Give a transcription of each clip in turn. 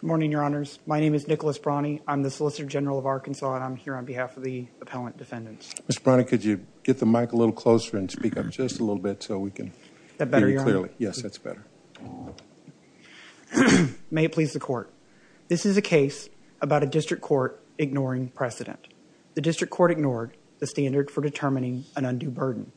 Good morning, Your Honors. My name is Nicholas Brawney. I'm the Solicitor General of Arkansas and I'm here on behalf of the Appellant Defendants. Mr. Brawney, could you get the mic a little closer and speak up just a little bit so we can hear you clearly? Is that better, Your Honor? Yes, that's better. May it please the Court. This is a case about a district court ignoring precedent. The district court ignored the standard for determining an undue burden.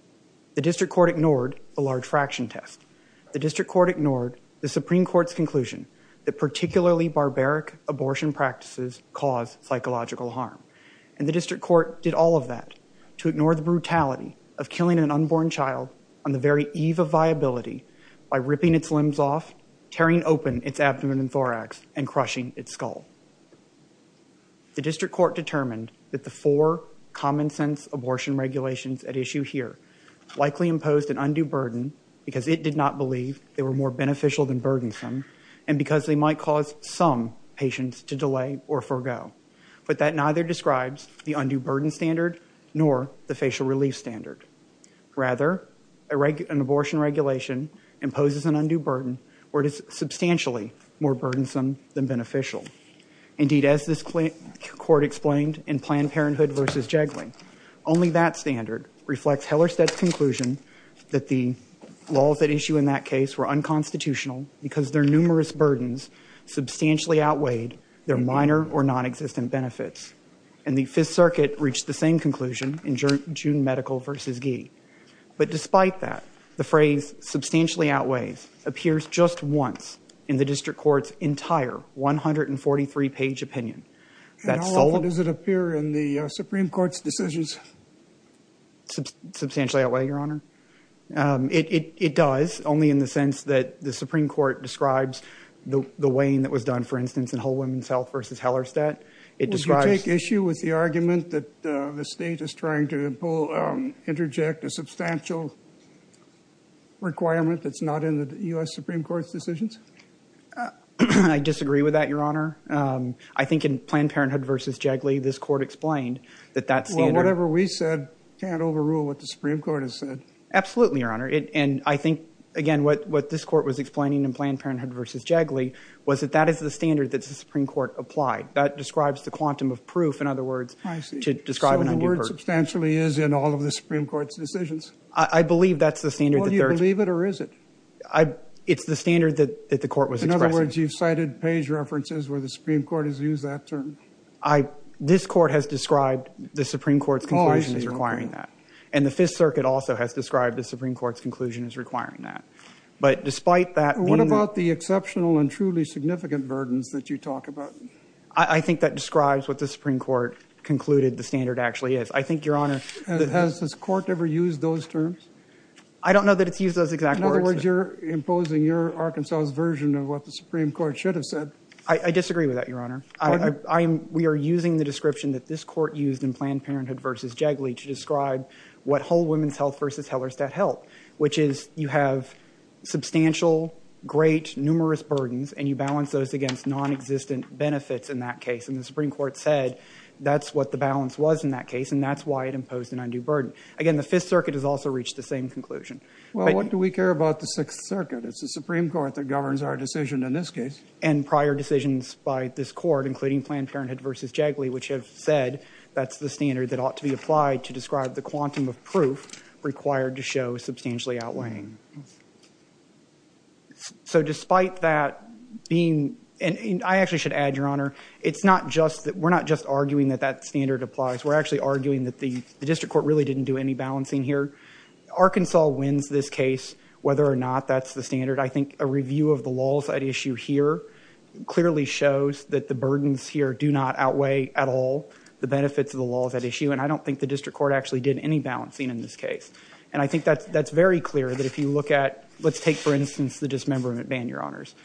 The district court ignored a large fraction test. The district court ignored the Supreme Court's conclusion that particularly barbaric abortion practices cause psychological harm. And the district court did all of that to ignore the brutality of killing an unborn child on the very eve of viability by ripping its limbs off, tearing open its abdomen and thorax, and crushing its skull. The district court determined that the four common sense abortion regulations at issue here likely imposed an undue burden because it did not believe they were more beneficial than burdensome and because they might cause some patients to delay or forego. But that neither describes the undue burden standard nor the facial relief standard. Rather, an abortion regulation imposes an undue burden where it is substantially more burdensome than beneficial. Indeed, as this court explained in Planned Parenthood v. Jegley, only that standard reflects Hellerstedt's conclusion that the laws at issue in that case were unconstitutional because their numerous burdens substantially outweighed their minor or nonexistent benefits. And the Fifth Circuit reached the same conclusion in June Medical v. Gee. But despite that, the phrase substantially outweighs appears just once in the district court's entire 143-page opinion. And how often does it appear in the Supreme Court's decisions? It does, only in the sense that the Supreme Court describes the weighing that was done, for instance, in Whole Woman's Health v. Hellerstedt. Would you take issue with the argument that the state is trying to interject a substantial requirement that's not in the U.S. Supreme Court's decisions? I disagree with that, Your Honor. I think in Planned Parenthood v. Jegley, this court explained that that standard— Absolutely, Your Honor. And I think, again, what this court was explaining in Planned Parenthood v. Jegley was that that is the standard that the Supreme Court applied. That describes the quantum of proof, in other words, to describe an undue burden. So the word substantially is in all of the Supreme Court's decisions? I believe that's the standard that they're— Well, do you believe it or is it? It's the standard that the court was expressing. In other words, you've cited page references where the Supreme Court has used that term? This court has described the Supreme Court's conclusions requiring that. And the Fifth Circuit also has described the Supreme Court's conclusion as requiring that. But despite that being— What about the exceptional and truly significant burdens that you talk about? I think that describes what the Supreme Court concluded the standard actually is. I think, Your Honor— Has this court ever used those terms? I don't know that it's used those exact words. In other words, you're imposing your Arkansas version of what the Supreme Court should have said. I disagree with that, Your Honor. Pardon? We are using the description that this court used in Planned Parenthood v. Jegley to describe what whole women's health v. Hellerstedt held, which is you have substantial, great, numerous burdens, and you balance those against nonexistent benefits in that case. And the Supreme Court said that's what the balance was in that case, and that's why it imposed an undue burden. Again, the Fifth Circuit has also reached the same conclusion. Well, what do we care about the Sixth Circuit? It's the Supreme Court that governs our decision in this case. And prior decisions by this court, including Planned Parenthood v. Jegley, which have said that's the standard that ought to be applied to describe the quantum of proof required to show substantially outweighing. So despite that being—and I actually should add, Your Honor, it's not just—we're not just arguing that that standard applies. We're actually arguing that the district court really didn't do any balancing here. Arkansas wins this case, whether or not that's the standard. I think a review of the laws at issue here clearly shows that the burdens here do not outweigh at all the benefits of the laws at issue, and I don't think the district court actually did any balancing in this case. And I think that's very clear that if you look at—let's take, for instance, the dismemberment ban, Your Honors.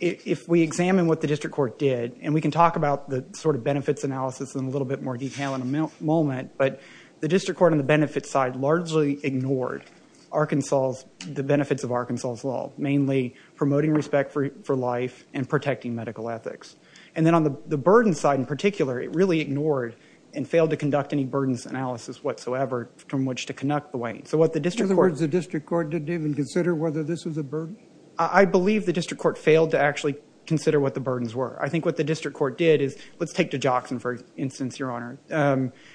If we examine what the district court did, and we can talk about the sort of benefits analysis in a little bit more detail in a moment, but the district court on the benefits side largely ignored Arkansas's—the benefits of Arkansas's law, mainly promoting respect for life and protecting medical ethics. And then on the burdens side in particular, it really ignored and failed to conduct any burdens analysis whatsoever from which to connect the weight. So what the district court— In other words, the district court didn't even consider whether this was a burden? I believe the district court failed to actually consider what the burdens were. I think what the district court did is—let's take DeJoxin, for instance, Your Honor.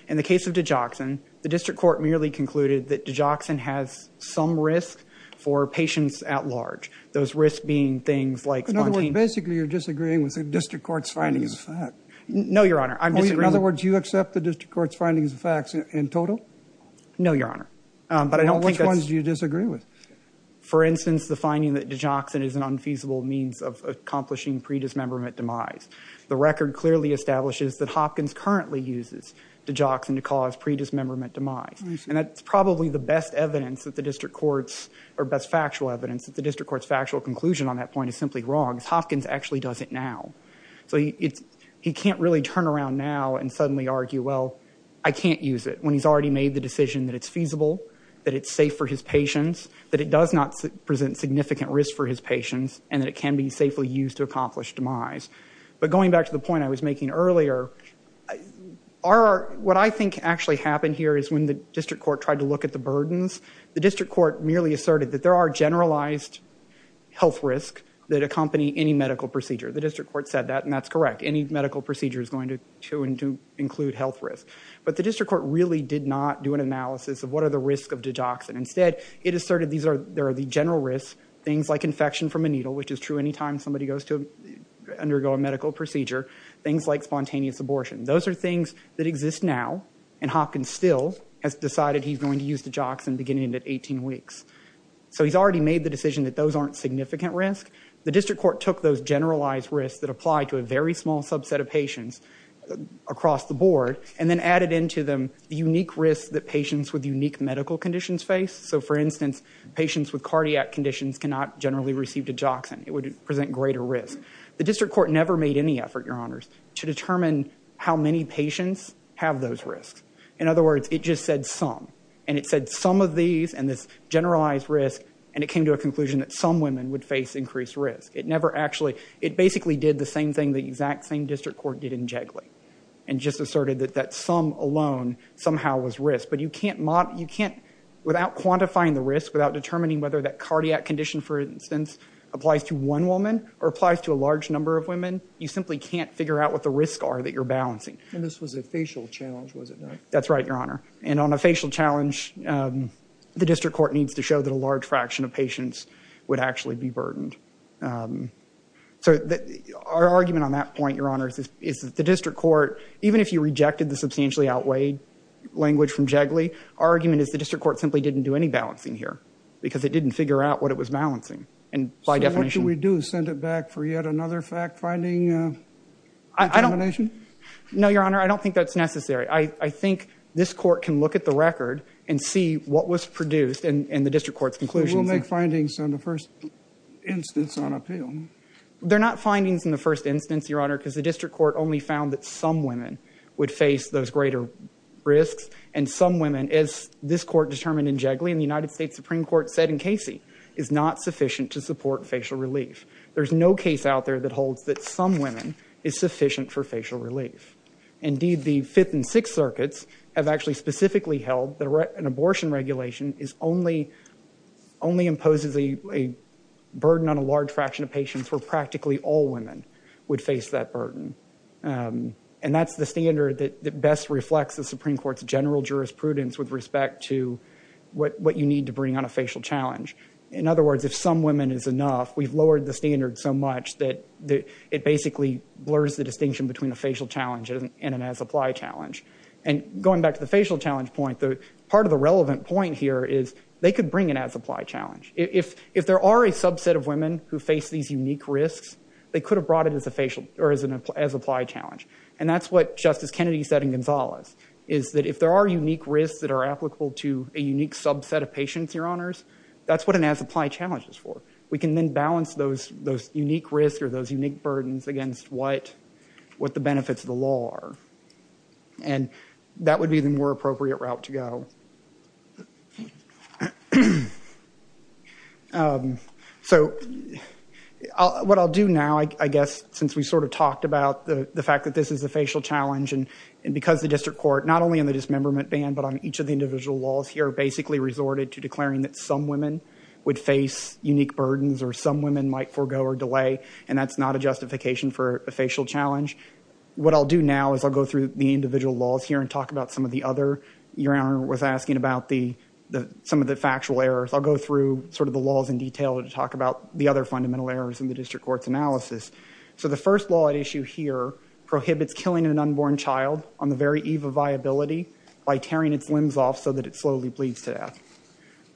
In the case of DeJoxin, the district court merely concluded that DeJoxin has some risk for patients at large, those risks being things like spontaneous— In other words, basically you're disagreeing with the district court's findings. No, Your Honor. I'm disagreeing— In other words, you accept the district court's findings and facts in total? No, Your Honor. But I don't think that's— Well, which ones do you disagree with? For instance, the finding that DeJoxin is an unfeasible means of accomplishing pre-dismemberment demise. The record clearly establishes that Hopkins currently uses DeJoxin to cause pre-dismemberment demise. And that's probably the best evidence that the district court's— or best factual evidence that the district court's factual conclusion on that point is simply wrong, is Hopkins actually does it now. So he can't really turn around now and suddenly argue, well, I can't use it, when he's already made the decision that it's feasible, that it's safe for his patients, that it does not present significant risk for his patients, and that it can be safely used to accomplish demise. But going back to the point I was making earlier, what I think actually happened here is when the district court tried to look at the burdens, the district court merely asserted that there are generalized health risks that accompany any medical procedure. The district court said that, and that's correct. Any medical procedure is going to include health risks. But the district court really did not do an analysis of what are the risks of DeJoxin. Instead, it asserted there are the general risks, things like infection from a needle, which is true any time somebody goes to undergo a medical procedure, things like spontaneous abortion. Those are things that exist now, and Hopkins still has decided he's going to use DeJoxin beginning at 18 weeks. So he's already made the decision that those aren't significant risks. The district court took those generalized risks that apply to a very small subset of patients across the board and then added into them the unique risks that patients with unique medical conditions face. So, for instance, patients with cardiac conditions cannot generally receive DeJoxin. It would present greater risk. The district court never made any effort, Your Honors, to determine how many patients have those risks. In other words, it just said some. And it said some of these and this generalized risk, and it came to a conclusion that some women would face increased risk. It basically did the same thing the exact same district court did in Jigley and just asserted that that some alone somehow was risk. But you can't, without quantifying the risk, without determining whether that cardiac condition, for instance, applies to one woman or applies to a large number of women, you simply can't figure out what the risks are that you're balancing. And this was a facial challenge, was it not? That's right, Your Honor. And on a facial challenge, the district court needs to show that a large fraction of patients would actually be burdened. So our argument on that point, Your Honors, is that the district court, even if you rejected the substantially outweighed language from Jigley, our argument is the district court simply didn't do any balancing here because it didn't figure out what it was balancing. So what do we do, send it back for yet another fact-finding determination? No, Your Honor, I don't think that's necessary. I think this court can look at the record and see what was produced and the district court's conclusions. We'll make findings on the first instance on appeal. They're not findings in the first instance, Your Honor, because the district court only found that some women would face those greater risks and some women, as this court determined in Jigley and the United States Supreme Court said in Casey, is not sufficient to support facial relief. There's no case out there that holds that some women is sufficient for facial relief. Indeed, the Fifth and Sixth Circuits have actually specifically held that an abortion regulation only imposes a burden on a large fraction of patients where practically all women would face that burden. And that's the standard that best reflects the Supreme Court's general jurisprudence with respect to what you need to bring on a facial challenge. In other words, if some women is enough, we've lowered the standard so much that it basically blurs the distinction between a facial challenge and an as-applied challenge. And going back to the facial challenge point, part of the relevant point here is they could bring an as-applied challenge. If there are a subset of women who face these unique risks, they could have brought it as an as-applied challenge. And that's what Justice Kennedy said in Gonzales, is that if there are unique risks that are applicable to a unique subset of patients, Your Honors, that's what an as-applied challenge is for. We can then balance those unique risks or those unique burdens against what the benefits of the law are. And that would be the more appropriate route to go. So what I'll do now, I guess, since we sort of talked about the fact that this is a facial challenge, and because the district court, not only in the dismemberment ban, but on each of the individual laws here, basically resorted to declaring that some women would face unique burdens or some women might forego or delay, and that's not a justification for a facial challenge. What I'll do now is I'll go through the individual laws here and talk about some of the other. Your Honor was asking about some of the factual errors. I'll go through sort of the laws in detail to talk about the other fundamental errors in the district court's analysis. So the first law at issue here prohibits killing an unborn child on the very eve of viability by tearing its limbs off so that it slowly bleeds to death.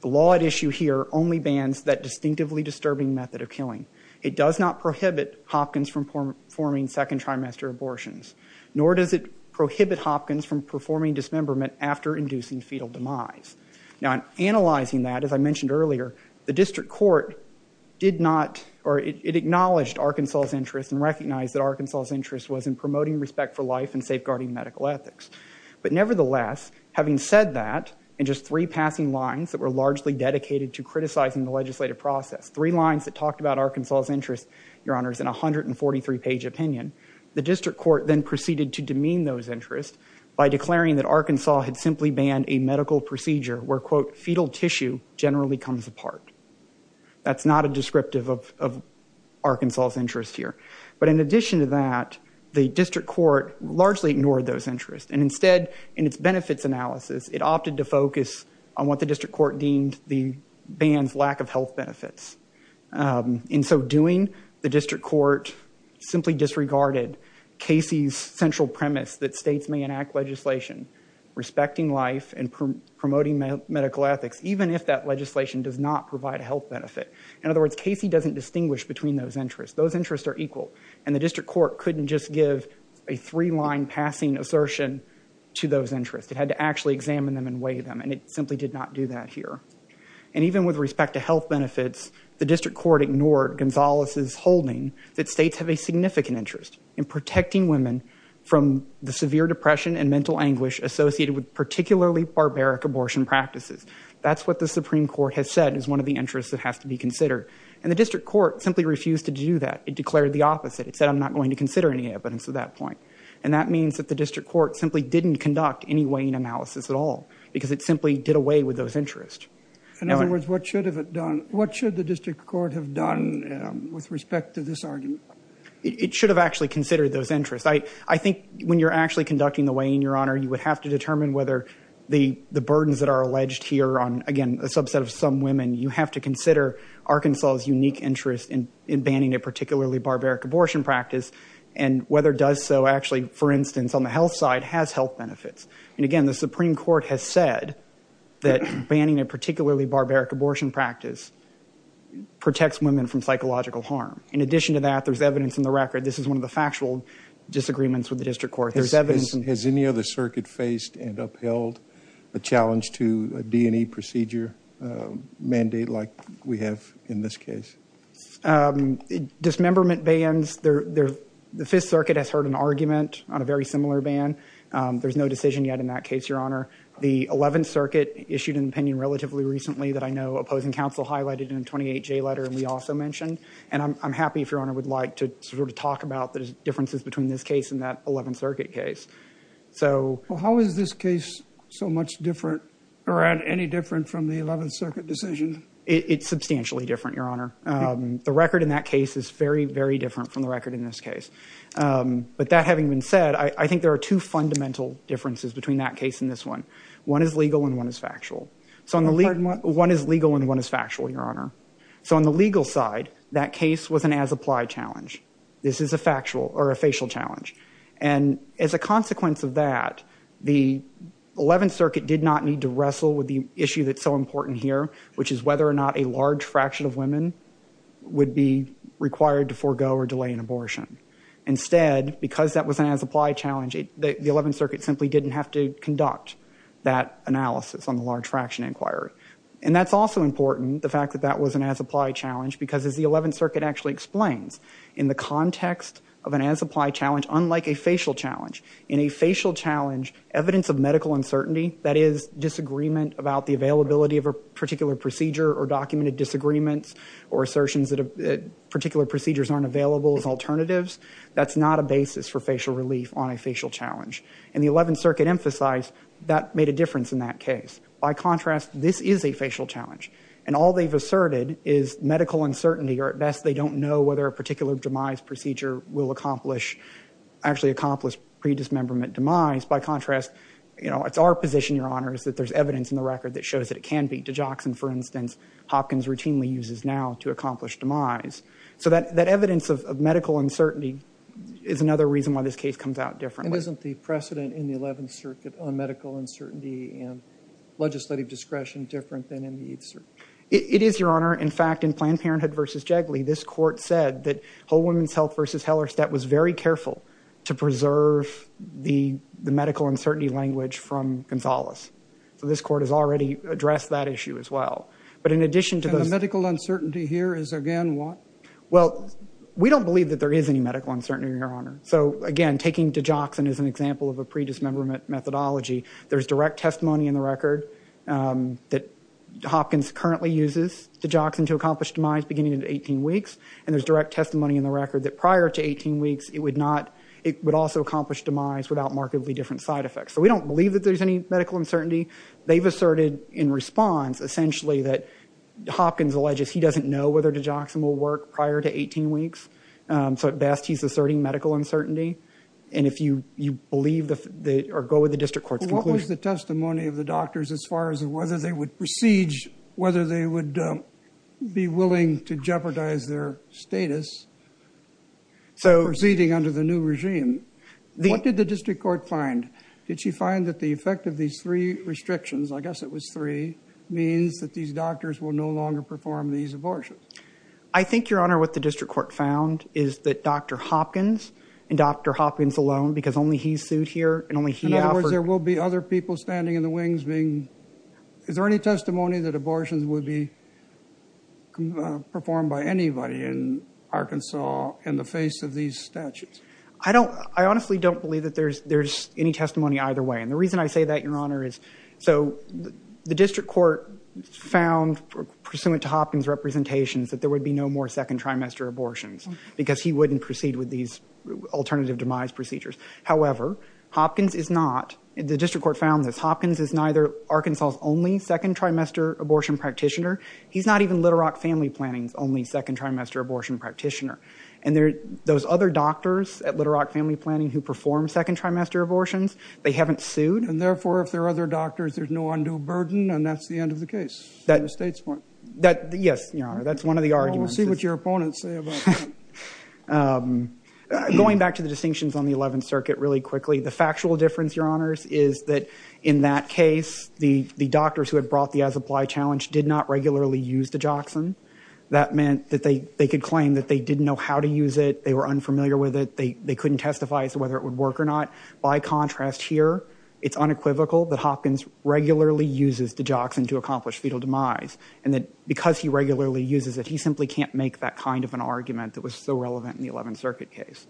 The law at issue here only bans that distinctively disturbing method of killing. It does not prohibit Hopkins from performing second trimester abortions, nor does it prohibit Hopkins from performing dismemberment after inducing fetal demise. Now, in analyzing that, as I mentioned earlier, the district court did not, or it acknowledged Arkansas' interest and recognized that Arkansas' interest was in promoting respect for life and safeguarding medical ethics. But nevertheless, having said that, in just three passing lines that were largely dedicated to criticizing the legislative process, three lines that talked about Arkansas' interest, Your Honors, in a 143-page opinion, the district court then proceeded to demean those interests by declaring that Arkansas had simply banned a medical procedure where, quote, fetal tissue generally comes apart. That's not a descriptive of Arkansas' interest here. But in addition to that, the district court largely ignored those interests, and instead, in its benefits analysis, it opted to focus on what the district court deemed the ban's lack of health benefits. In so doing, the district court simply disregarded Casey's central premise that states may enact legislation respecting life and promoting medical ethics, even if that legislation does not provide a health benefit. In other words, Casey doesn't distinguish between those interests. Those interests are equal. And the district court couldn't just give a three-line passing assertion to those interests. It had to actually examine them and weigh them, and it simply did not do that here. And even with respect to health benefits, the district court ignored Gonzales' holding that states have a significant interest in protecting women from the severe depression and mental anguish associated with particularly barbaric abortion practices. That's what the Supreme Court has said is one of the interests that has to be considered. And the district court simply refused to do that. It declared the opposite. It said, I'm not going to consider any evidence at that point. And that means that the district court simply didn't conduct any weighing analysis at all because it simply did away with those interests. In other words, what should the district court have done with respect to this argument? It should have actually considered those interests. I think when you're actually conducting the weighing, Your Honor, you would have to determine whether the burdens that are alleged here on, again, a subset of some women, you have to consider Arkansas' unique interest in banning a particularly barbaric abortion practice and whether it does so actually, for instance, on the health side, has health benefits. And again, the Supreme Court has said that banning a particularly barbaric abortion practice protects women from psychological harm. In addition to that, there's evidence in the record. This is one of the factual disagreements with the district court. There's evidence. Has any other circuit faced and upheld a challenge to a D&E procedure mandate like we have in this case? Dismemberment bans, the Fifth Circuit has heard an argument on a very similar ban. There's no decision yet in that case, Your Honor. The Eleventh Circuit issued an opinion relatively recently that I know opposing counsel highlighted in a 28-J letter and we also mentioned. And I'm happy, if Your Honor would like, to sort of talk about the differences between this case and that Eleventh Circuit case. How is this case so much different or any different from the Eleventh Circuit decision? It's substantially different, Your Honor. The record in that case is very, very different from the record in this case. But that having been said, I think there are two fundamental differences between that case and this one. One is legal and one is factual. One is legal and one is factual, Your Honor. So on the legal side, that case was an as-applied challenge. This is a factual or a facial challenge. And as a consequence of that, the Eleventh Circuit did not need to wrestle with the issue that's so important here, which is whether or not a large fraction of women would be required to forego or delay an abortion. Instead, because that was an as-applied challenge, the Eleventh Circuit simply didn't have to conduct that analysis on the large fraction inquiry. And that's also important, the fact that that was an as-applied challenge, because as the Eleventh Circuit actually explains, in the context of an as-applied challenge, unlike a facial challenge, in a facial challenge, evidence of medical uncertainty, that is, disagreement about the availability of a particular procedure or documented disagreements or assertions that particular procedures aren't available as alternatives, that's not a basis for facial relief on a facial challenge. And the Eleventh Circuit emphasized that made a difference in that case. By contrast, this is a facial challenge. And all they've asserted is medical uncertainty, or at best they don't know whether a particular demise procedure will accomplish, actually accomplish pre-dismemberment demise. By contrast, you know, it's our position, Your Honor, is that there's evidence in the record that shows that it can be. Digoxin, for instance, Hopkins routinely uses now to accomplish demise. So that evidence of medical uncertainty is another reason why this case comes out differently. And isn't the precedent in the Eleventh Circuit on medical uncertainty and legislative discretion different than in the Eighth Circuit? It is, Your Honor. In fact, in Planned Parenthood v. Jegley, this Court said that Whole Woman's Health v. Hellerstedt was very careful to preserve the medical uncertainty language from Gonzales. So this Court has already addressed that issue as well. And the medical uncertainty here is again what? Well, we don't believe that there is any medical uncertainty, Your Honor. So, again, taking digoxin as an example of a pre-dismemberment methodology, there's direct testimony in the record that Hopkins currently uses digoxin to accomplish demise beginning at 18 weeks. And there's direct testimony in the record that prior to 18 weeks, it would also accomplish demise without markedly different side effects. So we don't believe that there's any medical uncertainty. They've asserted in response essentially that Hopkins alleges he doesn't know whether digoxin will work prior to 18 weeks. So at best, he's asserting medical uncertainty. And if you believe or go with the district court's conclusion. What was the testimony of the doctors as far as whether they would be willing to jeopardize their status proceeding under the new regime? What did the district court find? Did she find that the effect of these three restrictions, I guess it was three, means that these doctors will no longer perform these abortions? I think, Your Honor, what the district court found is that Dr. Hopkins and Dr. Hopkins alone because only he's sued here and only he offered. In other words, there will be other people standing in the wings being. Is there any testimony that abortions would be performed by anybody in Arkansas in the face of these statutes? I honestly don't believe that there's any testimony either way. And the reason I say that, Your Honor, is so the district court found pursuant to Hopkins' representations that there would be no more second trimester abortions because he wouldn't proceed with these alternative demise procedures. However, Hopkins is not. The district court found this. Hopkins is neither Arkansas' only second trimester abortion practitioner. He's not even Little Rock Family Planning's only second trimester abortion practitioner. And those other doctors at Little Rock Family Planning who perform second trimester abortions, they haven't sued. And, therefore, if there are other doctors, there's no undue burden and that's the end of the case from the state's point of view. Yes, Your Honor, that's one of the arguments. Well, we'll see what your opponents say about that. Going back to the distinctions on the 11th Circuit really quickly, the factual difference, Your Honors, is that in that case, the doctors who had brought the as-applied challenge did not regularly use digoxin. That meant that they could claim that they didn't know how to use it, they were unfamiliar with it, they couldn't testify as to whether it would work or not. By contrast here, it's unequivocal that Hopkins regularly uses digoxin to accomplish fetal demise and that because he regularly uses it, he simply can't make that kind of an argument that was so relevant in the 11th Circuit case.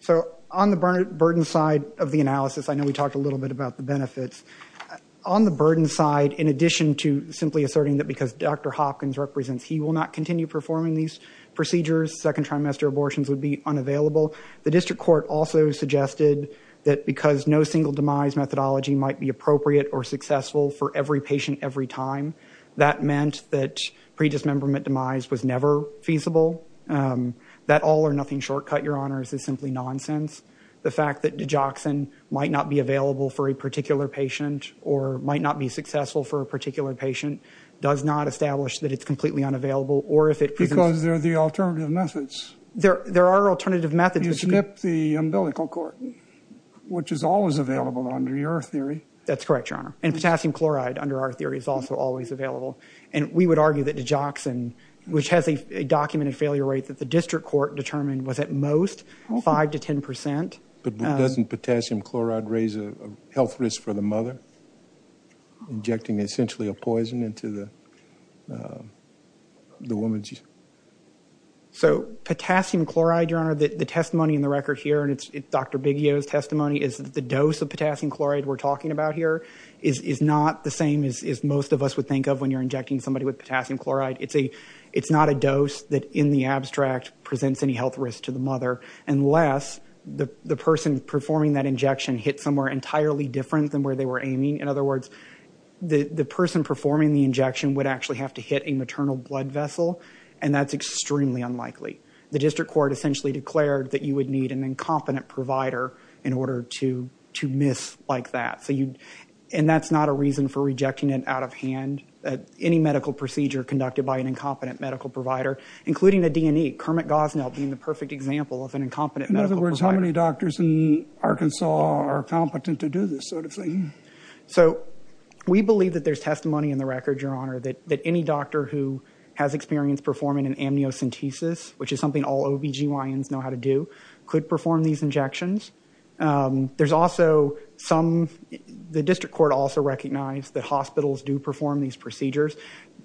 So on the burden side of the analysis, I know we talked a little bit about the benefits. On the burden side, in addition to simply asserting that because Dr. Hopkins represents, he will not continue performing these procedures, second trimester abortions would be unavailable, the district court also suggested that because no single demise methodology might be appropriate or successful for every patient every time, that meant that predismemberment demise was never feasible. That all-or-nothing shortcut, Your Honors, is simply nonsense. The fact that digoxin might not be available for a particular patient or might not be successful for a particular patient does not establish that it's completely unavailable or if it presents... Because there are the alternative methods. There are alternative methods. You skip the umbilical cord, which is always available under your theory. That's correct, Your Honor. And potassium chloride under our theory is also always available. And we would argue that digoxin, which has a documented failure rate that the district court determined was at most 5% to 10%. But doesn't potassium chloride raise a health risk for the mother, injecting essentially a poison into the woman's... So potassium chloride, Your Honor, the testimony in the record here, and it's Dr. Biggio's testimony, is that the dose of potassium chloride we're talking about here is not the same as most of us would think of when you're injecting somebody with potassium chloride. It's not a dose that in the abstract presents any health risk to the mother unless the person performing that injection hit somewhere entirely different than where they were aiming. In other words, the person performing the injection would actually have to hit a maternal blood vessel, and that's extremely unlikely. The district court essentially declared that you would need an incompetent provider in order to miss like that. And that's not a reason for rejecting it out of hand. Any medical procedure conducted by an incompetent medical provider, including a D&E, Kermit Gosnell being the perfect example of an incompetent medical provider... So we believe that there's testimony in the record, Your Honor, that any doctor who has experience performing an amniocentesis, which is something all OBGYNs know how to do, could perform these injections. There's also some... The district court also recognized that hospitals do perform these procedures.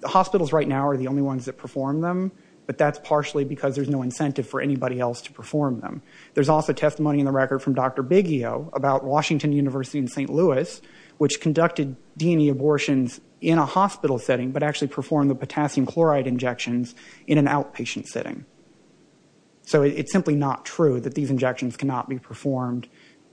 Hospitals right now are the only ones that perform them, but that's partially because there's no incentive for anybody else to perform them. There's also testimony in the record from Dr. Biggio about Washington University in St. Louis, which conducted D&E abortions in a hospital setting, but actually performed the potassium chloride injections in an outpatient setting. So it's simply not true that these injections cannot be performed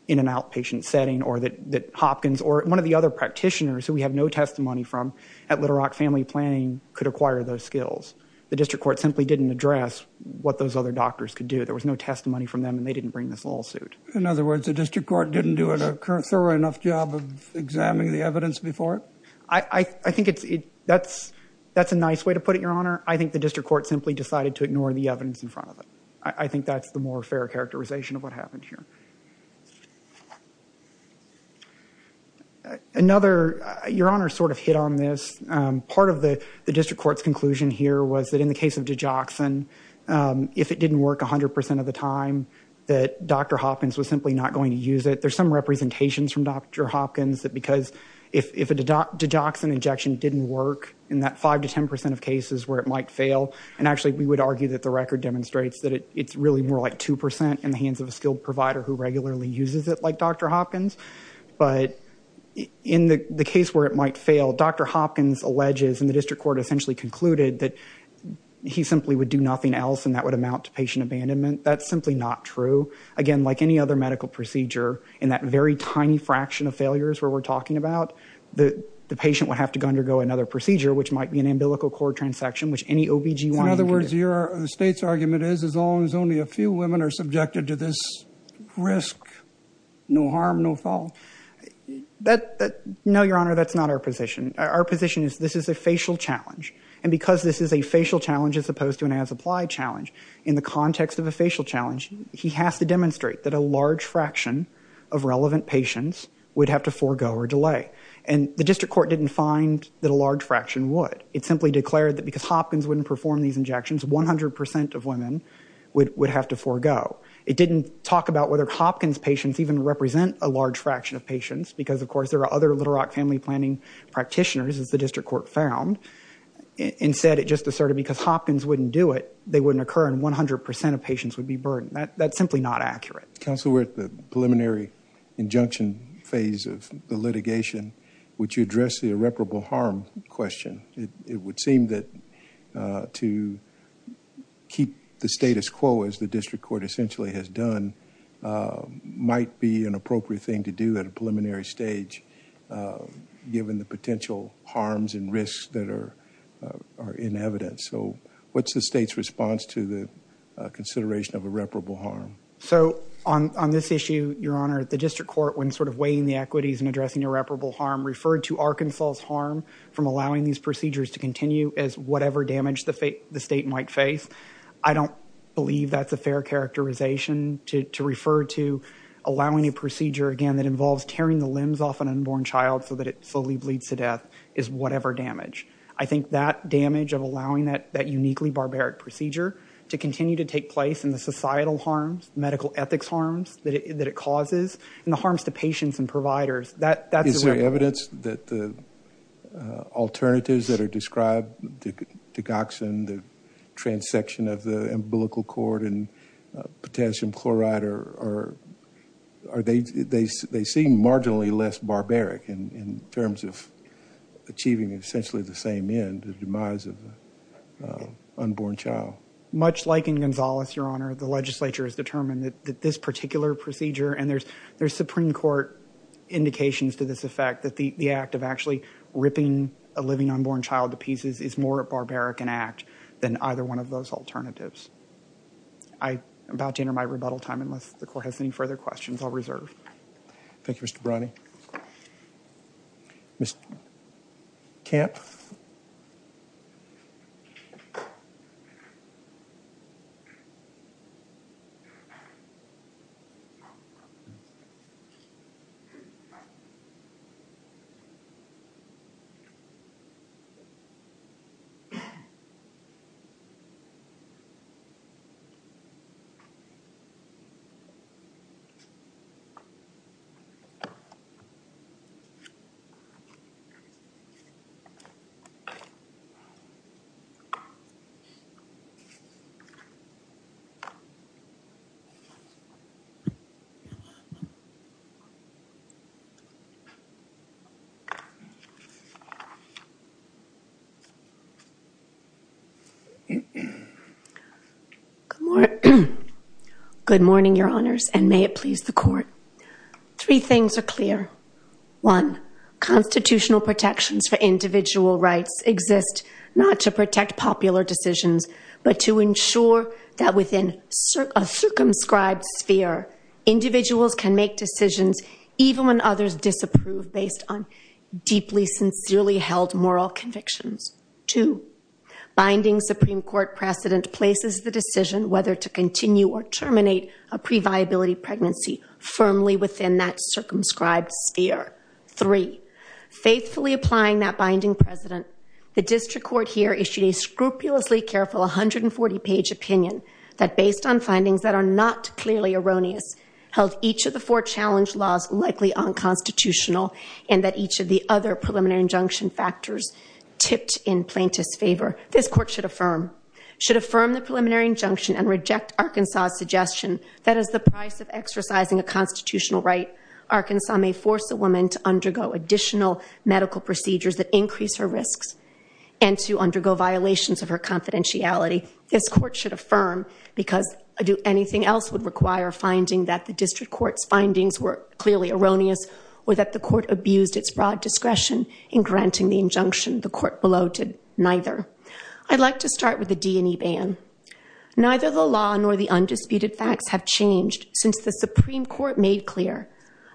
in an outpatient setting, or that Hopkins, or one of the other practitioners who we have no testimony from at Little Rock Family Planning could acquire those skills. The district court simply didn't address what those other doctors could do. There was no testimony from them, and they didn't bring this lawsuit. In other words, the district court didn't do a thorough enough job of examining the evidence before it? I think it's... That's a nice way to put it, Your Honor. I think the district court simply decided to ignore the evidence in front of it. I think that's the more fair characterization of what happened here. Another... Your Honor sort of hit on this. Part of the district court's conclusion here was that in the case of Dijoxin, if it didn't work 100% of the time, that Dr. Hopkins was simply not going to use it. There's some representations from Dr. Hopkins that because if a Dijoxin injection didn't work in that 5% to 10% of cases where it might fail, and actually we would argue that the record demonstrates that it's really more like 2% in the hands of a skilled provider who regularly uses it, like Dr. Hopkins. But in the case where it might fail, Dr. Hopkins alleges, and the district court essentially concluded, that he simply would do nothing else, and that would amount to patient abandonment. That's simply not true. Again, like any other medical procedure, in that very tiny fraction of failures where we're talking about, the patient would have to undergo another procedure, which might be an umbilical cord transection, which any OBGYN can do. In other words, the State's argument is as long as only a few women are subjected to this risk, no harm, no fault. No, Your Honor, that's not our position. Our position is this is a facial challenge. And because this is a facial challenge as opposed to an as-applied challenge, in the context of a facial challenge, he has to demonstrate that a large fraction of relevant patients would have to forego or delay. And the district court didn't find that a large fraction would. It simply declared that because Hopkins wouldn't perform these injections, 100% of women would have to forego. It didn't talk about whether Hopkins patients even represent a large fraction of patients, because, of course, there are other Little Rock family planning practitioners, as the district court found, and said it just asserted because Hopkins wouldn't do it, that they wouldn't occur and 100% of patients would be burned. That's simply not accurate. Counsel, we're at the preliminary injunction phase of the litigation. Would you address the irreparable harm question? It would seem that to keep the status quo, as the district court essentially has done, might be an appropriate thing to do at a preliminary stage, given the potential harms and risks that are in evidence. So what's the state's response to the consideration of irreparable harm? So on this issue, Your Honor, the district court, when sort of weighing the equities and addressing irreparable harm, referred to Arkansas' harm from allowing these procedures to continue as whatever damage the state might face. I don't believe that's a fair characterization to refer to allowing a procedure, again, that involves tearing the limbs off an unborn child so that it slowly bleeds to death as whatever damage. I think that damage of allowing that uniquely barbaric procedure to continue to take place and the societal harms, the medical ethics harms that it causes, and the harms to patients and providers, that's irreparable. Is there evidence that the alternatives that are described, the digoxin, the transection of the umbilical cord and potassium chloride, they seem marginally less barbaric in terms of achieving essentially the same end, the demise of an unborn child? Much like in Gonzales, Your Honor, the legislature has determined that this particular procedure, and there's Supreme Court indications to this effect, that the act of actually ripping a living unborn child to pieces is more a barbaric act than either one of those alternatives. I'm about to enter my rebuttal time unless the Court has any further questions. I'll reserve. Thank you, Mr. Browning. Good morning, Your Honors, and may it please the Court. Three things are clear. One, constitutional protections for individual rights exist not to protect popular decisions, but to ensure that within a circumscribed sphere, individuals can make decisions even when others disapprove based on deeply, sincerely held moral convictions. Two, binding Supreme Court precedent places the decision whether to continue or terminate a previability pregnancy firmly within that circumscribed sphere. Three, faithfully applying that binding precedent, the district court here issued a scrupulously careful 140-page opinion that, based on findings that are not clearly erroneous, held each of the four challenge laws likely unconstitutional and that each of the other preliminary injunction factors tipped in plaintiff's favor. This Court should affirm the preliminary injunction and reject Arkansas' suggestion that as the price of exercising a constitutional right, Arkansas may force a woman to undergo additional medical procedures that increase her risks and to undergo violations of her confidentiality. This Court should affirm, because anything else would require a finding that the district court's findings were clearly erroneous or that the court abused its broad discretion in granting the injunction the court below did neither. I'd like to start with the D&E ban. Neither the law nor the undisputed facts have changed since the Supreme Court made clear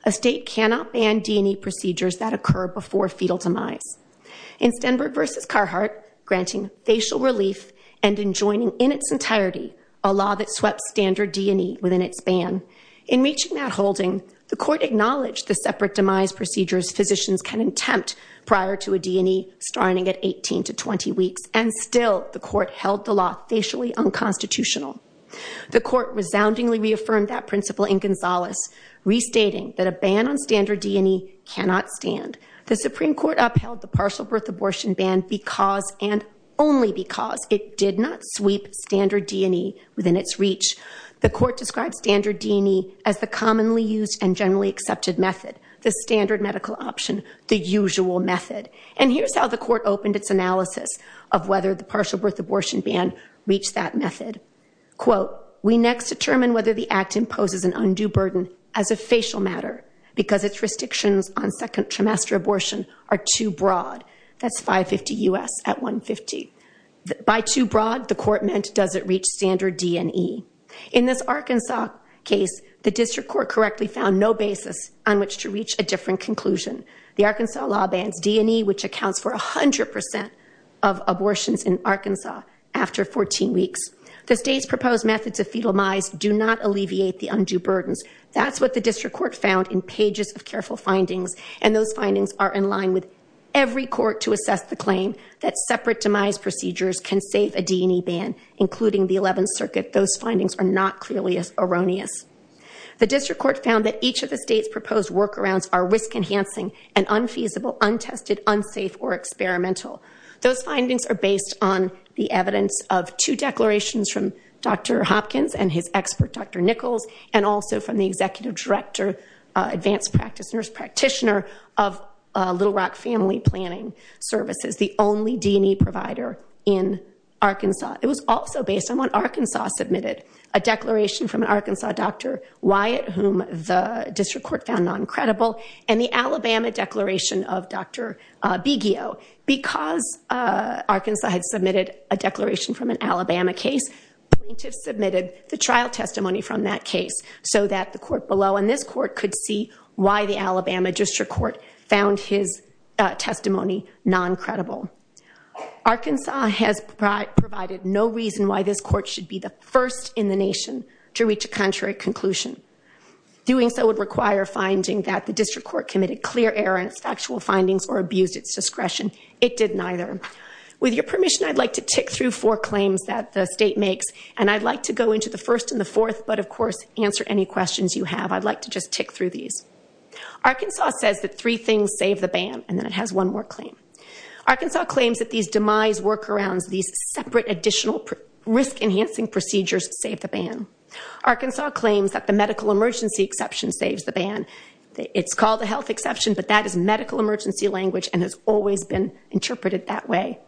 a state cannot ban D&E procedures that occur before fetal demise. In Stenberg v. Carhart, granting facial relief and enjoining in its entirety a law that swept standard D&E within its ban, in reaching that holding, the court acknowledged the separate demise procedures physicians can attempt prior to a D&E starting at 18 to 20 weeks, and still the court held the law facially unconstitutional. The court resoundingly reaffirmed that principle in Gonzales, restating that a ban on standard D&E cannot stand. The Supreme Court upheld the partial birth abortion ban because and only because it did not sweep standard D&E within its reach. The court described standard D&E as the commonly used and generally accepted method, the standard medical option, the usual method. And here's how the court opened its analysis of whether the partial birth abortion ban reached that method. Quote, By too broad, the court meant does it reach standard D&E. In this Arkansas case, the district court correctly found no basis on which to reach a different conclusion. The Arkansas law bans D&E, which accounts for 100% of abortions in Arkansas after 14 weeks. The state's proposed methods of fetal demise do not alleviate the undue burdens. That's what the district court found in pages of careful findings. And those findings are in line with every court to assess the claim that separate demise procedures can save a D&E ban, including the 11th Circuit. Those findings are not clearly as erroneous. The district court found that each of the state's proposed workarounds are risk-enhancing and unfeasible, untested, unsafe, or experimental. Those findings are based on the evidence of two declarations from Dr. Hopkins and his expert, Dr. Nichols, and also from the executive director, advanced practice nurse practitioner of Little Rock Family Planning Services, the only D&E provider in Arkansas. It was also based on what Arkansas submitted, a declaration from an Arkansas doctor, Wyatt, whom the district court found non-credible, and the Alabama declaration of Dr. Biggio. Because Arkansas had submitted a declaration from an Alabama case, plaintiffs submitted the trial testimony from that case so that the court below and this court could see why the Alabama district court found his testimony non-credible. Arkansas has provided no reason why this court should be the first in the nation to reach a contrary conclusion. Doing so would require finding that the district court committed clear errors, factual findings, or abused its discretion. It did neither. With your permission, I'd like to tick through four claims that the state makes, and I'd like to go into the first and the fourth, but, of course, answer any questions you have. I'd like to just tick through these. Arkansas says that three things save the ban, and then it has one more claim. Arkansas claims that these demise workarounds, these separate additional risk-enhancing procedures save the ban. Arkansas claims that the medical emergency exception saves the ban. It's called a health exception, but that is medical emergency language and has always been interpreted that way.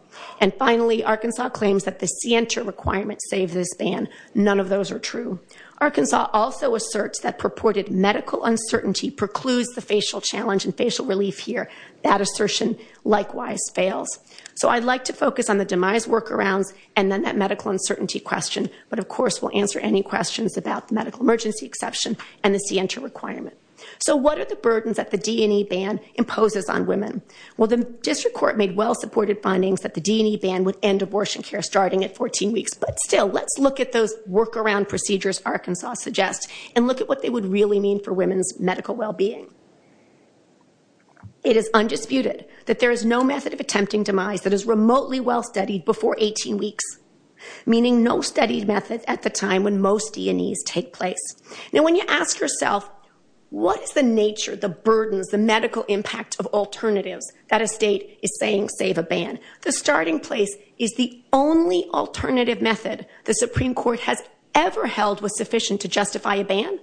And, finally, Arkansas claims that the CNTER requirements save this ban. None of those are true. Arkansas also asserts that purported medical uncertainty precludes the facial challenge and facial relief here. That assertion likewise fails. So I'd like to focus on the demise workarounds and then that medical uncertainty question, but, of course, we'll answer any questions about the medical emergency exception and the CNTER requirement. So what are the burdens that the D&E ban imposes on women? Well, the district court made well-supported findings that the D&E ban would end abortion care starting at 14 weeks, but, still, let's look at those workaround procedures Arkansas suggests and look at what they would really mean for women's medical well-being. It is undisputed that there is no method of attempting demise that is remotely well-studied before 18 weeks, meaning no studied method at the time when most D&Es take place. Now, when you ask yourself, what is the nature, the burdens, the medical impact of alternatives that a state is saying save a ban, the starting place is the only alternative method the Supreme Court has ever held was sufficient to justify a ban,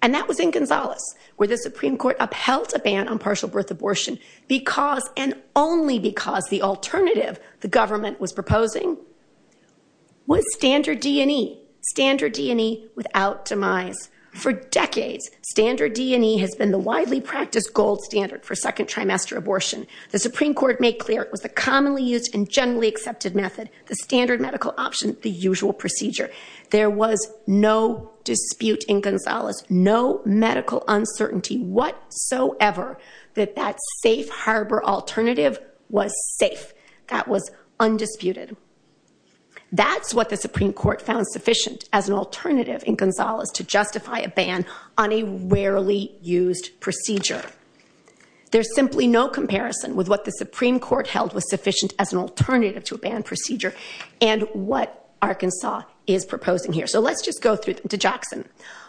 and that was in Gonzales, where the Supreme Court upheld a ban on partial birth abortion because, and only because, the alternative the government was proposing was standard D&E, standard D&E without demise. For decades, standard D&E has been the widely practiced gold standard for second trimester abortion. The Supreme Court made clear it was the commonly used and generally accepted method, the standard medical option, the usual procedure. There was no dispute in Gonzales, no medical uncertainty whatsoever that that safe harbor alternative was safe. That was undisputed. That's what the Supreme Court found sufficient as an alternative in Gonzales to justify a ban on a rarely used procedure. There's simply no comparison with what the Supreme Court held was sufficient as an alternative to a ban procedure and what Arkansas is proposing here. So let's just go through the digoxin.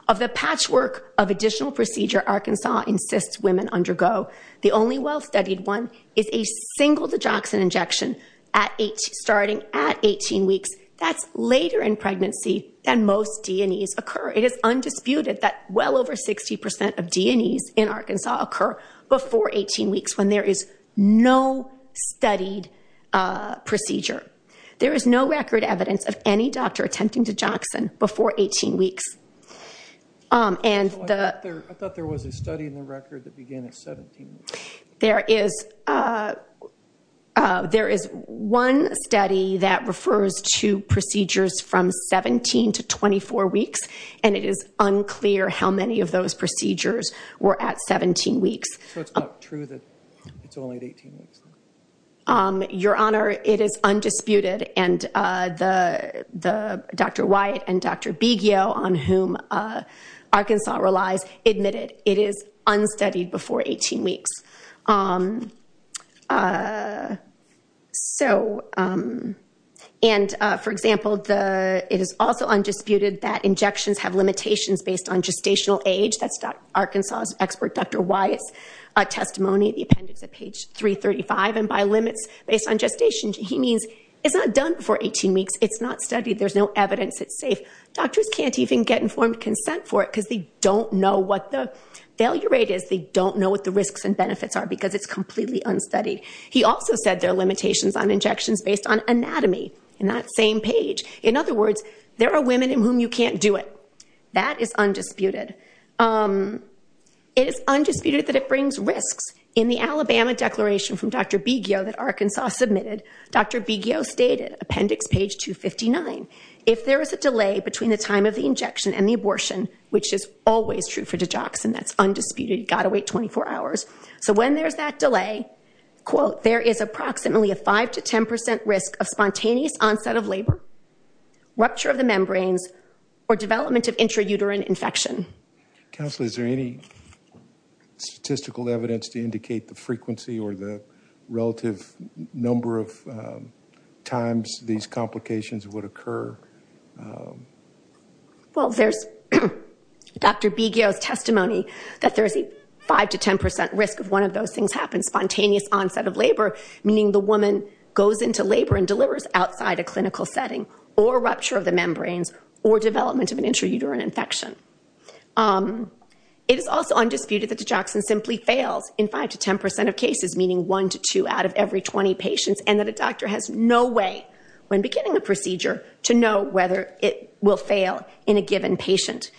Of the patchwork of additional procedure Arkansas insists women undergo, the only well-studied one is a single digoxin injection starting at 18 weeks. That's later in pregnancy than most D&Es occur. It is undisputed that well over 60% of D&Es in Arkansas occur before 18 weeks when there is no studied procedure. There is no record evidence of any doctor attempting digoxin before 18 weeks. I thought there was a study in the record that began at 17 weeks. There is one study that refers to procedures from 17 to 24 weeks, and it is unclear how many of those procedures were at 17 weeks. So it's not true that it's only at 18 weeks? Your Honor, it is undisputed, and Dr. Wyatt and Dr. Biggio, on whom Arkansas relies, admitted it is unstudied before 18 weeks. For example, it is also undisputed that injections have limitations based on gestational age. That's Arkansas' expert Dr. Wyatt's testimony, the appendix at page 335. And by limits based on gestation, he means it's not done before 18 weeks. It's not studied. There's no evidence. It's safe. Doctors can't even get informed consent for it because they don't know what the failure rate is. They don't know what the risks and benefits are because it's completely unstudied. He also said there are limitations on injections based on anatomy in that same page. In other words, there are women in whom you can't do it. That is undisputed. It is undisputed that it brings risks. In the Alabama declaration from Dr. Biggio that Arkansas submitted, Dr. Biggio stated, appendix page 259, if there is a delay between the time of the injection and the abortion, which is always true for digoxin, that's undisputed. You've got to wait 24 hours. So when there's that delay, there is approximately a 5% to 10% risk of spontaneous onset of labor, rupture of the membranes, or development of intrauterine infection. Counsel, is there any statistical evidence to indicate the frequency or the relative number of times these complications would occur? Well, there's Dr. Biggio's testimony that there's a 5% to 10% risk if one of those things happens, spontaneous onset of labor, meaning the woman goes into labor and delivers outside a clinical setting, or rupture of the membranes, or development of an intrauterine infection. It is also undisputed that digoxin simply fails in 5% to 10% of cases, meaning 1% to 2% out of every 20 patients, and that a doctor has no way, when beginning a procedure, to know whether it will fail in a given patient.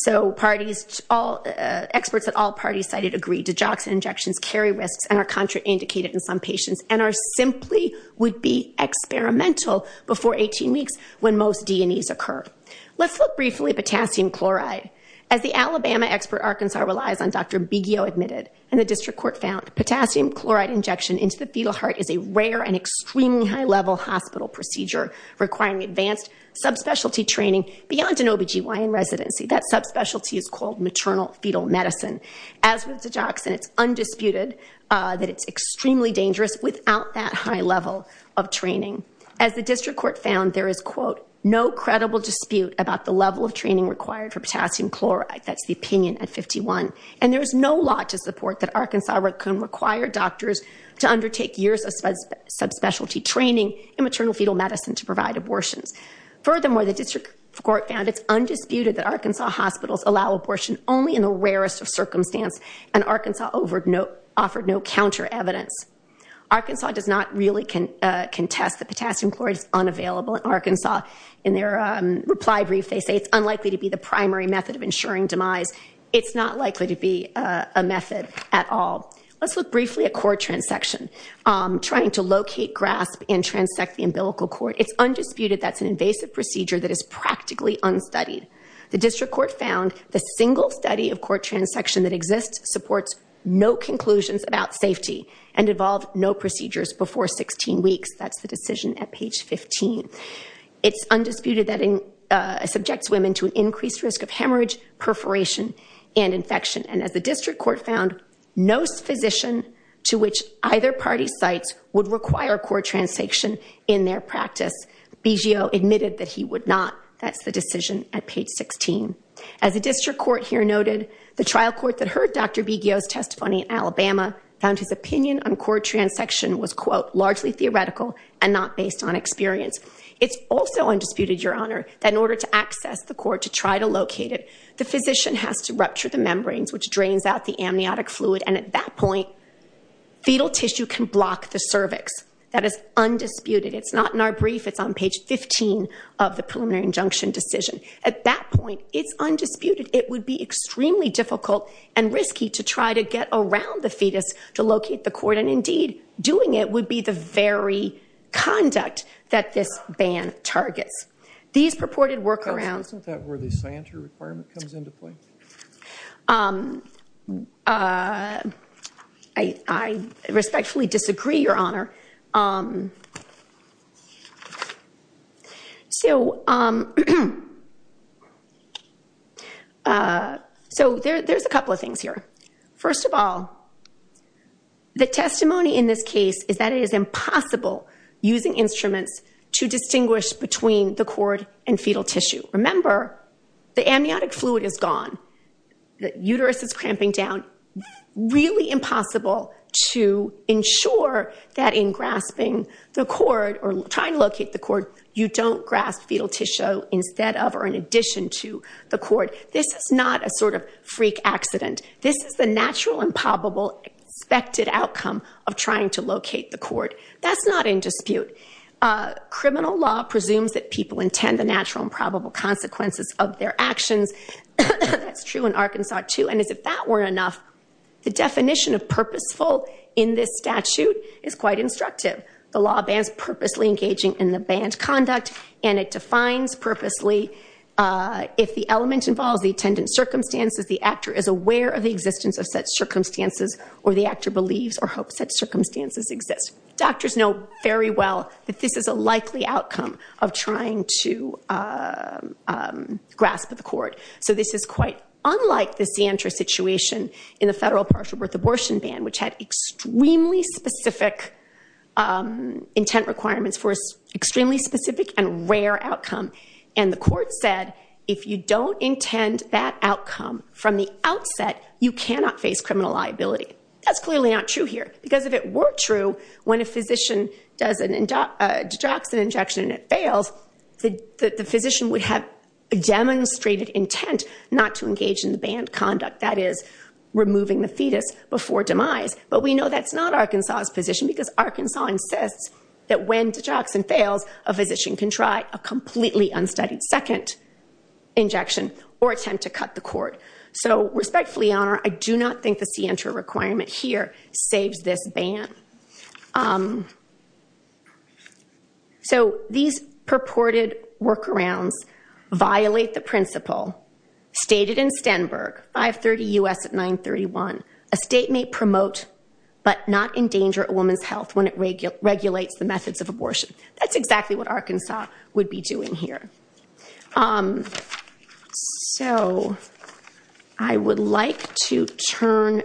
So experts at all parties cited agree digoxin injections carry risks and are contraindicated in some patients and are simply would be experimental before 18 weeks when most D&Es occur. Let's look briefly at potassium chloride. As the Alabama expert Arkansas relies on, Dr. Biggio admitted, and the district court found, potassium chloride injection into the fetal heart is a rare and extremely high-level hospital procedure, requiring advanced subspecialty training beyond an OBGYN residency. That subspecialty is called maternal fetal medicine. As with digoxin, it's undisputed that it's extremely dangerous without that high level of training. As the district court found, there is, quote, no credible dispute about the level of training required for potassium chloride. That's the opinion at 51. And there is no law to support that Arkansas can require doctors to undertake years of subspecialty training in maternal fetal medicine to provide abortions. Furthermore, the district court found it's undisputed that Arkansas hospitals allow abortion only in the rarest of circumstances, and Arkansas offered no counter evidence. Arkansas does not really contest that potassium chloride is unavailable in Arkansas. In their reply brief, they say it's unlikely to be the primary method of ensuring demise. It's not likely to be a method at all. Let's look briefly at cord transection, trying to locate, grasp, and transect the umbilical cord. It's undisputed that's an invasive procedure that is practically unstudied. The district court found the single study of cord transection that exists supports no conclusions about safety and involved no procedures before 16 weeks. That's the decision at page 15. It's undisputed that it subjects women to an increased risk of hemorrhage, perforation, and infection. And as the district court found, no physician to which either party cites would require cord transection in their practice. Biggio admitted that he would not. That's the decision at page 16. As the district court here noted, the trial court that heard Dr. Biggio's testimony in Alabama found his opinion on cord transection was, quote, largely theoretical and not based on experience. It's also undisputed, Your Honor, that in order to access the cord to try to locate it, the physician has to rupture the membranes, and at that point, fetal tissue can block the cervix. That is undisputed. It's not in our brief. It's on page 15 of the preliminary injunction decision. At that point, it's undisputed. It would be extremely difficult and risky to try to get around the fetus to locate the cord, and indeed doing it would be the very conduct that this ban targets. These purported workarounds — Counsel, isn't that where the scienter requirement comes into play? I respectfully disagree, Your Honor. So there's a couple of things here. First of all, the testimony in this case is that it is impossible using instruments to distinguish between the cord and fetal tissue. Remember, the amniotic fluid is gone. The uterus is cramping down. It's really impossible to ensure that in grasping the cord or trying to locate the cord, you don't grasp fetal tissue instead of or in addition to the cord. This is not a sort of freak accident. This is the natural and probable expected outcome of trying to locate the cord. That's not in dispute. Criminal law presumes that people intend the natural and probable consequences of their actions. That's true in Arkansas, too, and as if that weren't enough, the definition of purposeful in this statute is quite instructive. The law bans purposely engaging in the banned conduct, and it defines purposely if the element involves the attendant's circumstances, the actor is aware of the existence of such circumstances or the actor believes or hopes such circumstances exist. Doctors know very well that this is a likely outcome of trying to grasp the cord. So this is quite unlike the Sientra situation in the federal partial birth abortion ban, which had extremely specific intent requirements for an extremely specific and rare outcome. And the court said, if you don't intend that outcome from the outset, you cannot face criminal liability. That's clearly not true here, because if it were true, when a physician does a didoxin injection and it fails, the physician would have demonstrated intent not to engage in the banned conduct, that is, removing the fetus before demise. But we know that's not Arkansas' position, because Arkansas insists that when didoxin fails, a physician can try a completely unstudied second injection or attempt to cut the cord. So respectfully, Your Honor, I do not think the Sientra requirement here saves this ban. So these purported workarounds violate the principle stated in Stenberg, 530 U.S. at 931, a state may promote but not endanger a woman's health when it regulates the methods of abortion. That's exactly what Arkansas would be doing here. So I would like to turn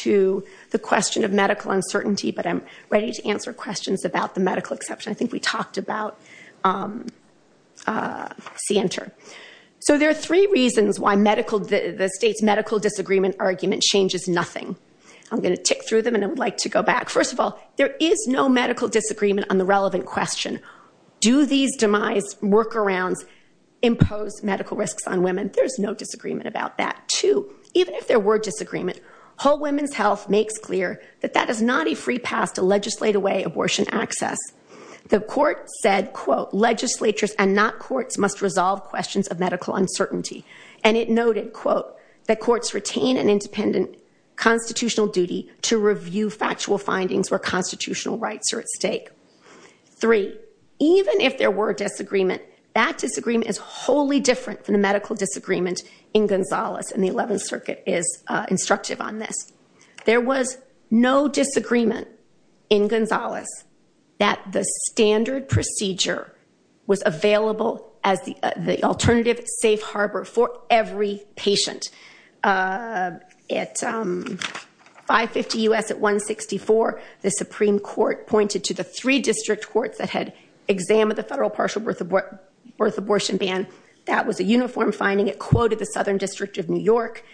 to the question of medical uncertainty, but I'm ready to answer questions about the medical exception. I think we talked about Sientra. So there are three reasons why the state's medical disagreement argument changes nothing. I'm going to tick through them, and I would like to go back. First of all, there is no medical disagreement on the relevant question. Do these demise workarounds impose medical risks on women? There's no disagreement about that. Two, even if there were disagreement, Whole Women's Health makes clear that that is not a free pass to legislate away abortion access. The court said, quote, legislatures and not courts must resolve questions of medical uncertainty. And it noted, quote, that courts retain an independent constitutional duty to review factual findings where constitutional rights are at stake. Three, even if there were disagreement, that disagreement is wholly different than the medical disagreement in Gonzalez and the 11th Circuit is instructive on this. There was no disagreement in Gonzalez that the standard procedure was available as the alternative safe harbor for every patient. At 550 U.S. at 164, the Supreme Court pointed to the three district courts that had examined the federal partial birth abortion ban. That was a uniform finding. It quoted the Southern District of New York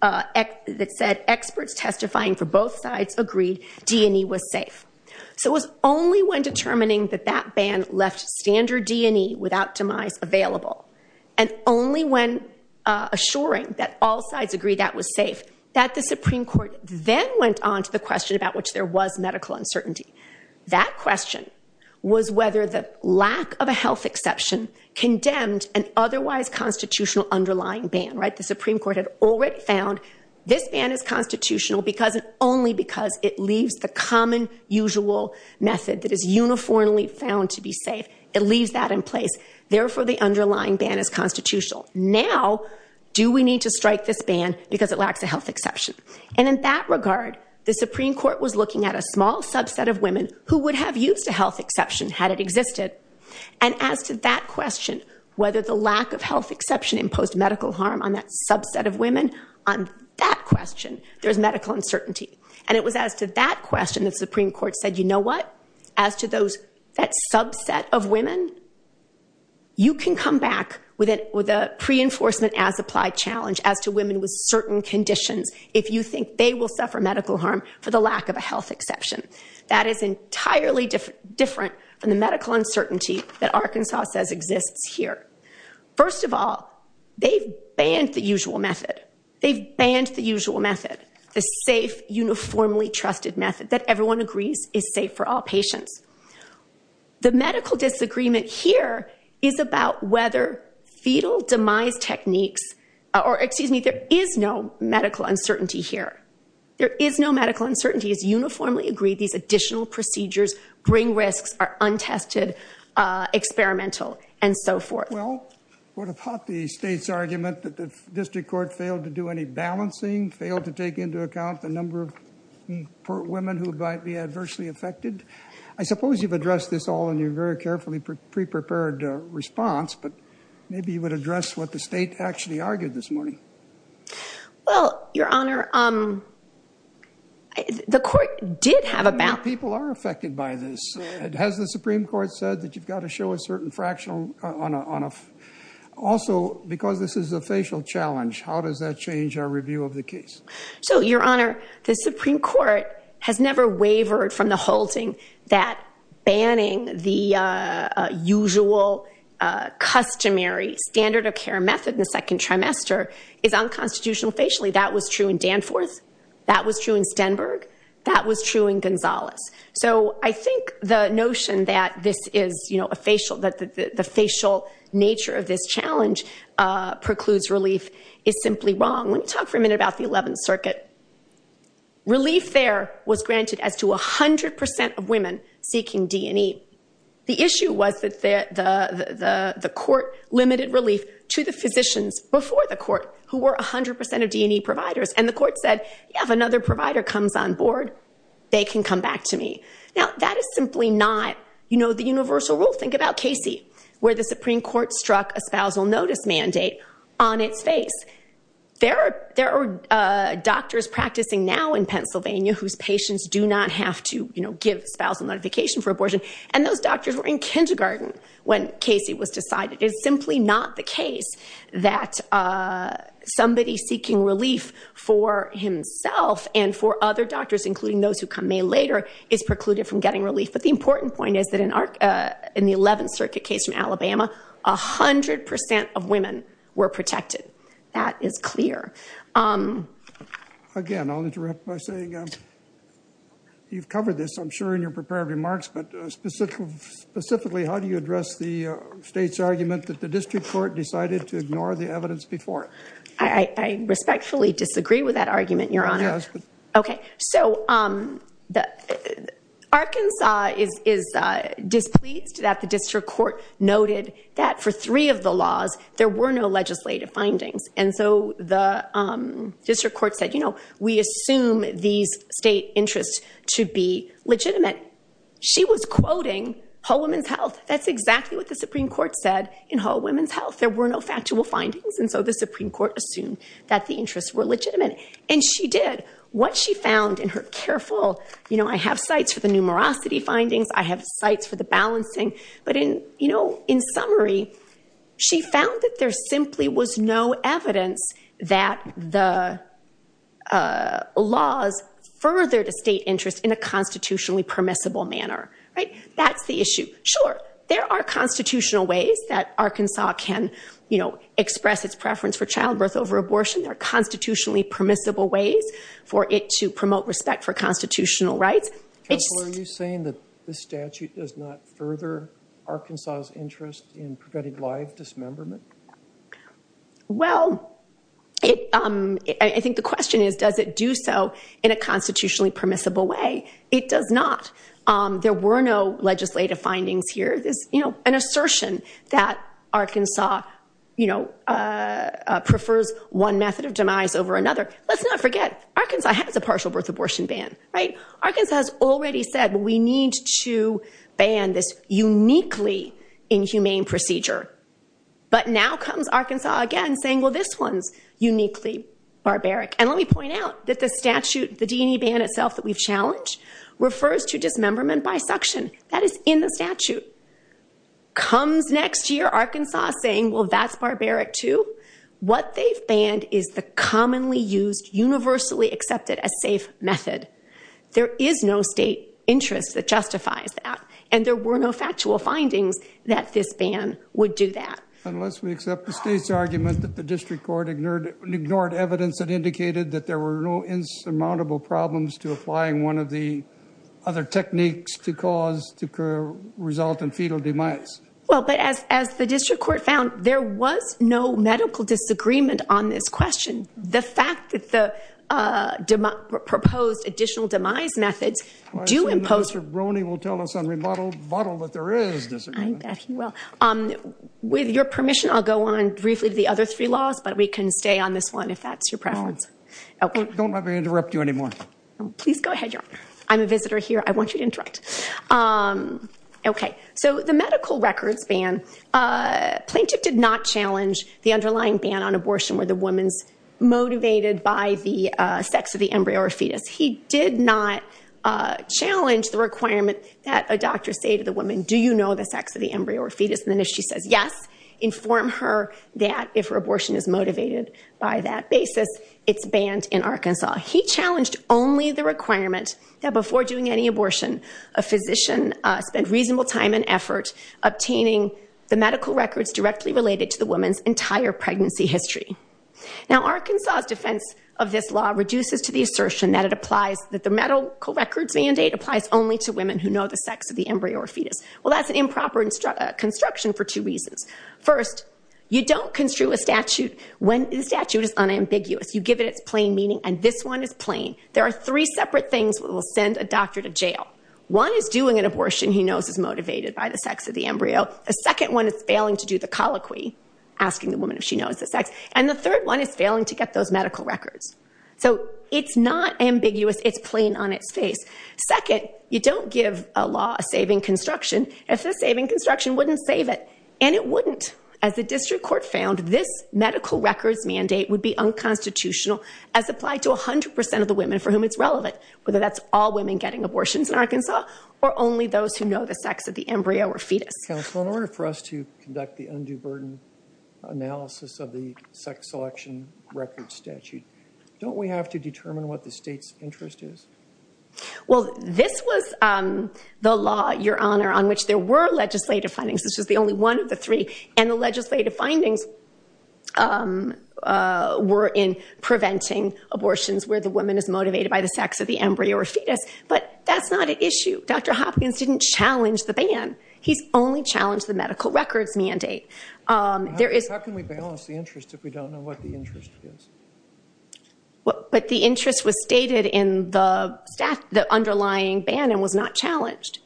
that said experts testifying for both sides agreed D&E was safe. So it was only when determining that that ban left standard D&E without demise available and only when assuring that all sides agreed that was safe that the Supreme Court then went on to the question about which there was medical uncertainty. That question was whether the lack of a health exception condemned an otherwise constitutional underlying ban. The Supreme Court had already found this ban is constitutional only because it leaves the common usual method that is uniformly found to be safe. It leaves that in place. Therefore, the underlying ban is constitutional. Now, do we need to strike this ban because it lacks a health exception? And in that regard, the Supreme Court was looking at a small subset of women who would have used a health exception had it existed. And as to that question, whether the lack of health exception imposed medical harm on that subset of women, on that question, there's medical uncertainty. And it was as to that question the Supreme Court said, you know what? As to that subset of women, you can come back with a pre-enforcement as applied challenge as to women with certain conditions if you think they will suffer medical harm for the lack of a health exception. That is entirely different from the medical uncertainty that Arkansas says exists here. First of all, they've banned the usual method. They've banned the usual method, the safe, uniformly trusted method that everyone agrees is safe for all patients. The medical disagreement here is about whether fetal demise techniques, or excuse me, there is no medical uncertainty here. There is no medical uncertainty. It's uniformly agreed these additional procedures bring risks are untested, experimental, and so forth. Well, what about the state's argument that the district court failed to do any balancing, failed to take into account the number of women who might be adversely affected? I suppose you've addressed this all in your very carefully pre-prepared response, but maybe you would address what the state actually argued this morning. Well, Your Honor, the court did have a balance. How many people are affected by this? Has the Supreme Court said that you've got to show a certain fractional on a... Also, because this is a facial challenge, how does that change our review of the case? So, Your Honor, the Supreme Court has never wavered from the halting that banning the usual, customary standard of care method in the second trimester is unconstitutional facially. That was true in Danforth. That was true in Stenberg. That was true in Gonzales. So I think the notion that this is a facial, that the facial nature of this challenge precludes relief is simply wrong. Let me talk for a minute about the 11th Circuit. Relief there was granted as to 100% of women seeking D&E. The issue was that the court limited relief to the physicians before the court who were 100% of D&E providers, and the court said, yeah, if another provider comes on board, they can come back to me. Now, that is simply not, you know, the universal rule. Think about Casey, where the Supreme Court struck a spousal notice mandate on its face. There are doctors practicing now in Pennsylvania whose patients do not have to, you know, give spousal notification for abortion, and those doctors were in kindergarten when Casey was decided. It is simply not the case that somebody seeking relief for himself and for other doctors, including those who come in later, is precluded from getting relief. But the important point is that in the 11th Circuit case in Alabama, 100% of women were protected. That is clear. Again, I'll interrupt by saying you've covered this, I'm sure, in your prepared remarks, but specifically, how do you address the state's argument that the district court decided to ignore the evidence before? I respectfully disagree with that argument, Your Honor. Okay. So, Arkansas is displeased that the district court noted that for three of the laws, there were no legislative findings. And so the district court said, you know, we assume these state interests to be legitimate. She was quoting Whole Woman's Health. That's exactly what the Supreme Court said in Whole Woman's Health. There were no factual findings, and so the Supreme Court assumed that the interests were legitimate. And she did. What she found in her careful, you know, I have sites for the numerosity findings, I have sites for the balancing, but in summary, she found that there simply was no evidence that the laws furthered a state interest in a constitutionally permissible manner. That's the issue. Sure, there are constitutional ways that Arkansas can, you know, express its preference for childbirth over abortion. There are constitutionally permissible ways for it to promote respect for constitutional rights. Counsel, are you saying that this statute does not further Arkansas' interest in prevented live dismemberment? Well, I think the question is, does it do so in a constitutionally permissible way? It does not. There were no legislative findings here. This, you know, an assertion that Arkansas, you know, prefers one method of demise over another. Let's not forget, Arkansas has a partial birth abortion ban, right? Arkansas has already said, we need to ban this uniquely inhumane procedure. But now comes Arkansas again saying, well, this one's uniquely barbaric. And let me point out that the statute, the D&E ban itself that we've challenged refers to dismemberment by suction. That is in the statute. Comes next year, Arkansas saying, well, that's barbaric too. What they've banned is the commonly used, universally accepted as safe method. There is no state interest that justifies that. And there were no factual findings that this ban would do that. Unless we accept the state's argument that the district court ignored evidence that indicated that there were no insurmountable problems to applying one of the other techniques to cause, to result in fetal demise. Well, but as the district court found, there was no medical disagreement on this question. The fact that the proposed additional demise methods do impose... I assume Mr. Brony will tell us on rebuttal that there is disagreement. I bet he will. With your permission, I'll go on briefly to the other three laws, but we can stay on this one if that's your preference. Don't let me interrupt you anymore. Please go ahead, Your Honor. I'm a visitor here. I want you to interrupt. Okay. So the medical records ban, Plaintiff did not challenge the underlying ban on abortion where the woman's motivated by the sex of the embryo or fetus. He did not challenge the requirement that a doctor say to the woman, do you know the sex of the embryo or fetus? And if she says yes, inform her that if her abortion is motivated by that basis, it's banned in Arkansas. He challenged only the requirement that before doing any abortion, a physician spend reasonable time and effort obtaining the medical records directly related to the woman's entire pregnancy history. Now Arkansas' defense of this law reduces to the assertion that it applies... that the medical records mandate applies only to women who know the sex of the embryo or fetus. Well, that's an improper construction for two reasons. First, you don't construe a statute when the statute is unambiguous. You give it its plain meaning, and this one is plain. There are three separate things that will send a doctor to jail. One is doing an abortion he knows is motivated by the sex of the embryo. A second one is failing to do the colloquy, asking the woman if she knows the sex. And the third one is failing to get those medical records. So it's not ambiguous, it's plain on its face. Second, you don't give a law a saving construction if the saving construction wouldn't save it. And it wouldn't. As the district court found, this medical records mandate would be unconstitutional as applied to 100% of the women for whom it's relevant, whether that's all women getting abortions in Arkansas or only those who know the sex of the embryo or fetus. Counsel, in order for us to conduct the undue burden analysis of the sex selection records statute, don't we have to determine what the state's interest is? Well, this was the law, Your Honor, on which there were legislative findings. This was the only one of the three. And the legislative findings were in preventing abortions where the woman is motivated by the sex of the embryo or fetus. But that's not an issue. Dr. Hopkins didn't challenge the ban. He's only challenged the medical records mandate. How can we balance the interests if we don't know what the interest is? But the interest was stated in the underlying ban and was not challenged,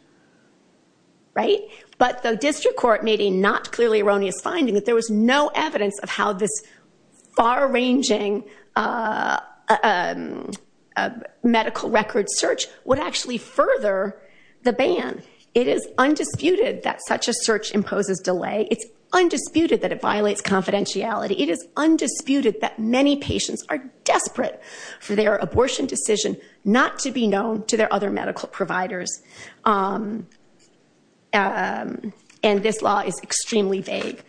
right? But the district court made a not clearly erroneous finding that there was no evidence of how this far-ranging medical record search would actually further the ban. It is undisputed that such a search imposes delay. It's undisputed that it violates confidentiality. It is undisputed that many patients are desperate for their abortion decision not to be known to their other medical providers. And this law is extremely vague.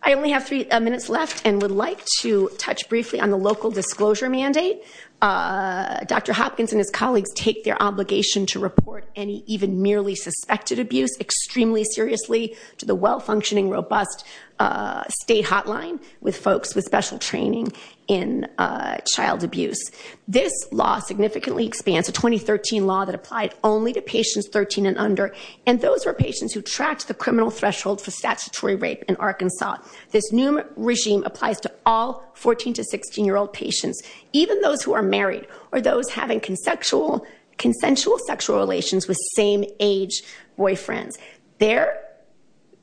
I only have three minutes left and would like to touch briefly on the local disclosure mandate. Dr. Hopkins and his colleagues take their obligation to report any even merely suspected abuse extremely seriously to the well-functioning, robust state hotline with folks with special training in child abuse. This law significantly expands, a 2013 law that applied only to patients 13 and under, and those were patients who tracked the criminal threshold for statutory rape in Arkansas. This new regime applies to all 14- to 16-year-old patients, even those who are married or those having consensual sexual relations with same-age boyfriends. Their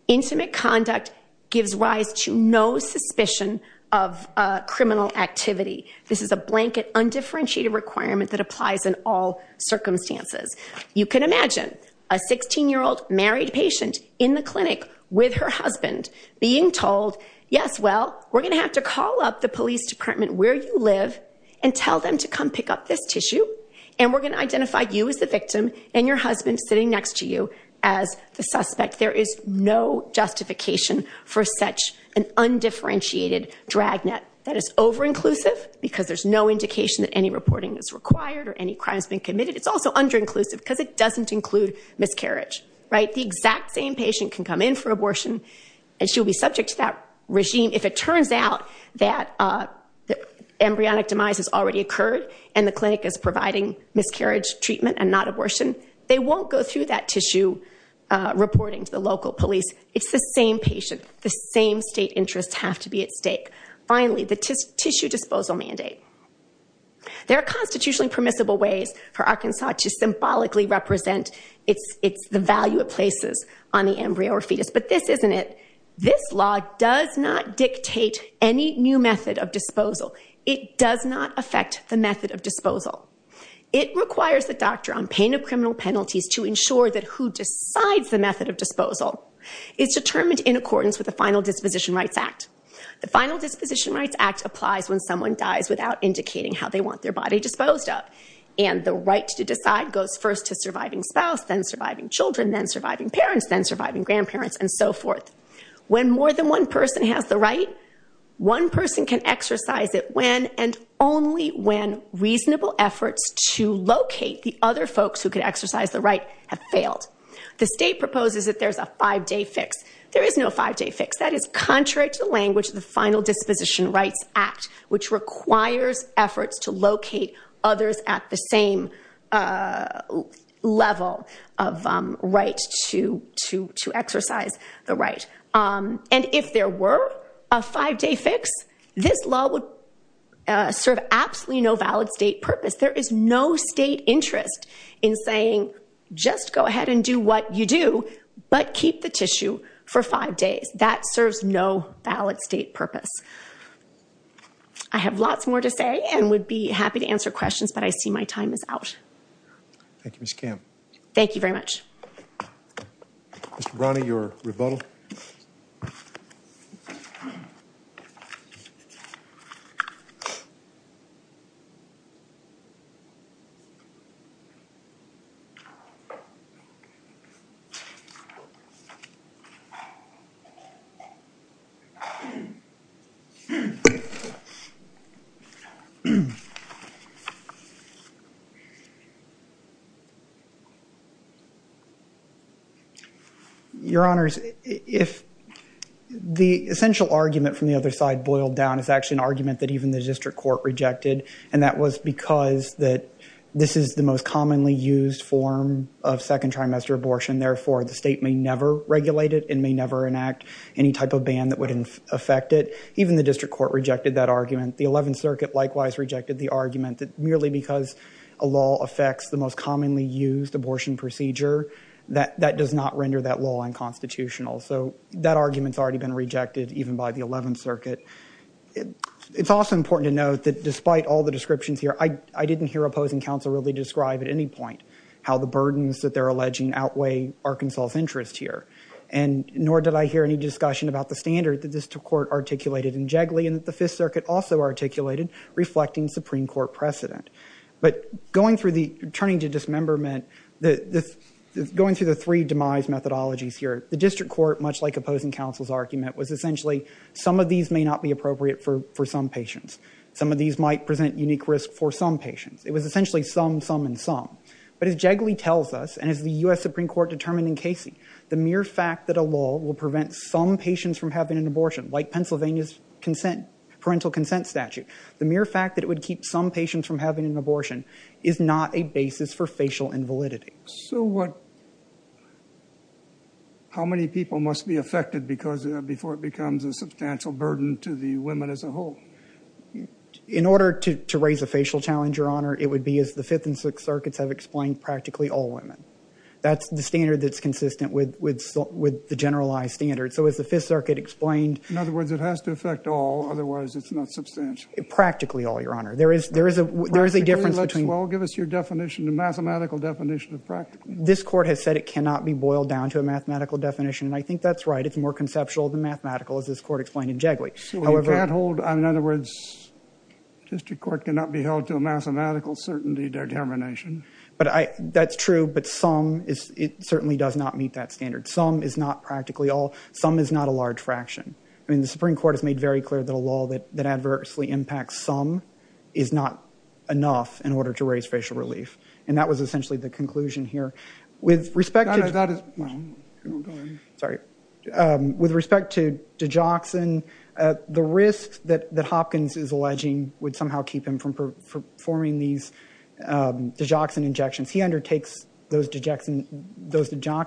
intimate conduct gives rise to no suspicion of criminal activity. This is a blanket undifferentiated requirement that applies in all circumstances. You can imagine a 16-year-old married patient in the clinic with her husband being told, yes, well, we're going to have to call up the police department where you live and tell them to come pick up this tissue, and we're going to identify you as the victim and your husband sitting next to you as the suspect. There is no justification for such an undifferentiated dragnet. That is over-inclusive because there's no indication that any reporting is required or any crime has been committed. It's also under-inclusive because it doesn't include miscarriage. The exact same patient can come in for abortion and she'll be subject to that regime. If it turns out that embryonic demise has already occurred and the clinic is providing miscarriage treatment and not abortion, they won't go through that tissue reporting to the local police. It's the same patient. The same state interests have to be at stake. Finally, the tissue disposal mandate. There are constitutionally permissible ways for Arkansas to symbolically represent the value it places on the embryo or fetus, but this isn't it. This law does not dictate any new method of disposal. It does not affect the method of disposal. It requires the doctor on pain of criminal penalties to ensure that who decides the method of disposal is determined in accordance with the Final Disposition Rights Act. The Final Disposition Rights Act applies when someone dies without indicating how they want their body disposed of, and the right to decide goes first to surviving spouse, then surviving children, then surviving parents, then surviving grandparents, and so forth. When more than one person has the right, one person can exercise it when and only when reasonable efforts to locate the other folks who could exercise the right have failed. The state proposes that there's a five-day fix. There is no five-day fix. That is contrary to the language of the Final Disposition Rights Act, which requires efforts to locate others at the same level of right to exercise the right. And if there were a five-day fix, this law would serve absolutely no valid state purpose. There is no state interest in saying, just go ahead and do what you do, but keep the tissue for five days. That serves no valid state purpose. I have lots more to say and would be happy to answer questions, but I see my time is out. Thank you, Ms. Camp. Thank you very much. Mr. Brownlee, your rebuttal. Your Honors, if the essential argument from the other side boiled down is actually an argument that even the district court rejected, and that was because this is the most commonly used form of second trimester abortion. Therefore, the state may never regulate it and may never enact any type of ban that would affect it. Even the district court rejected that argument. The 11th Circuit likewise rejected the argument that merely because a law affects the most commonly used abortion procedure, that does not render that law unconstitutional. So that argument's already been rejected even by the 11th Circuit. It's also important to note that despite all the descriptions here, I didn't hear opposing counsel really describe at any point how the burdens that they're alleging outweigh Arkansas' interest here, nor did I hear any discussion about the standard that the district court articulated in Jigley and that the Fifth Circuit also articulated, reflecting Supreme Court precedent. But going through the turning to dismemberment, going through the three demise methodologies here, the district court, much like opposing counsel's argument, was essentially some of these may not be appropriate for some patients. Some of these might present unique risk for some patients. It was essentially some, some, and some. But as Jigley tells us, and as the U.S. Supreme Court determined in Casey, the mere fact that a law will prevent some patients from having an abortion, like Pennsylvania's parental consent statute, the mere fact that it would keep some patients from having an abortion is not a basis for facial invalidity. So what, how many people must be affected before it becomes a substantial burden to the women as a whole? In order to raise a facial challenge, Your Honor, it would be as the Fifth and Sixth Circuits have explained, practically all women. That's the standard that's consistent with the generalized standard. So as the Fifth Circuit explained... In other words, it has to affect all, otherwise it's not substantial. Practically all, Your Honor. There is a difference between... Well, give us your definition, the mathematical definition of practically all. This Court has said it cannot be boiled down to a mathematical definition, and I think that's right. It's more conceptual than mathematical, as this Court explained in Jigley. You can't hold, in other words, the District Court cannot be held to a mathematical certainty determination. But that's true, but some, it certainly does not meet that standard. Some is not practically all. Some is not a large fraction. I mean, the Supreme Court has made very clear that a law that adversely impacts some is not enough in order to raise facial relief. And that was essentially the conclusion here. With respect to... No, no, that is... Sorry. With respect to digoxin, the risk that Hopkins is alleging would somehow keep him from performing these digoxin injections. He undertakes those digoxin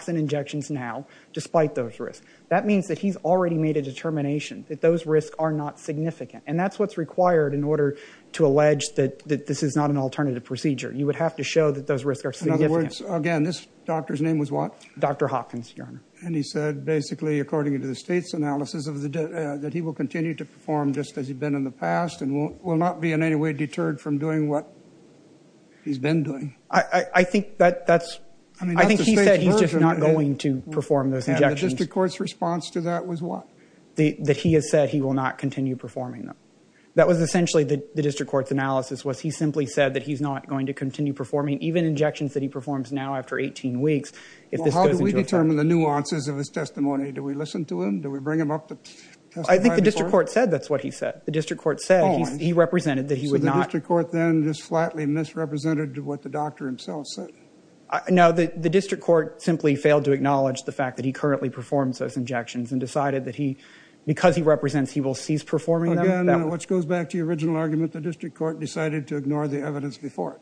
injections now, despite those risks. That means that he's already made a determination that those risks are not significant. And that's what's required in order to allege that this is not an alternative procedure. You would have to show that those risks are significant. In other words, again, this doctor's name was what? Dr. Hopkins, Your Honor. And he said, basically, according to the State's analysis, that he will continue to perform just as he'd been in the past and will not be in any way deterred from doing what he's been doing. I think that's... I think he said he's just not going to perform those injections. And the district court's response to that was what? That he has said he will not continue performing them. That was essentially the district court's analysis, was he simply said that he's not going to continue performing even injections that he performs now after 18 weeks, if this goes into effect. Well, how do we determine the nuances of his testimony? Do we listen to him? Do we bring him up to testify before? I think the district court said that's what he said. The district court said he represented that he would not... So the district court then just flatly misrepresented what the doctor himself said? No, the district court simply failed to acknowledge the fact that he currently performs those injections and decided that because he represents, he will cease performing them. Again, which goes back to your original argument, the district court decided to ignore the evidence before.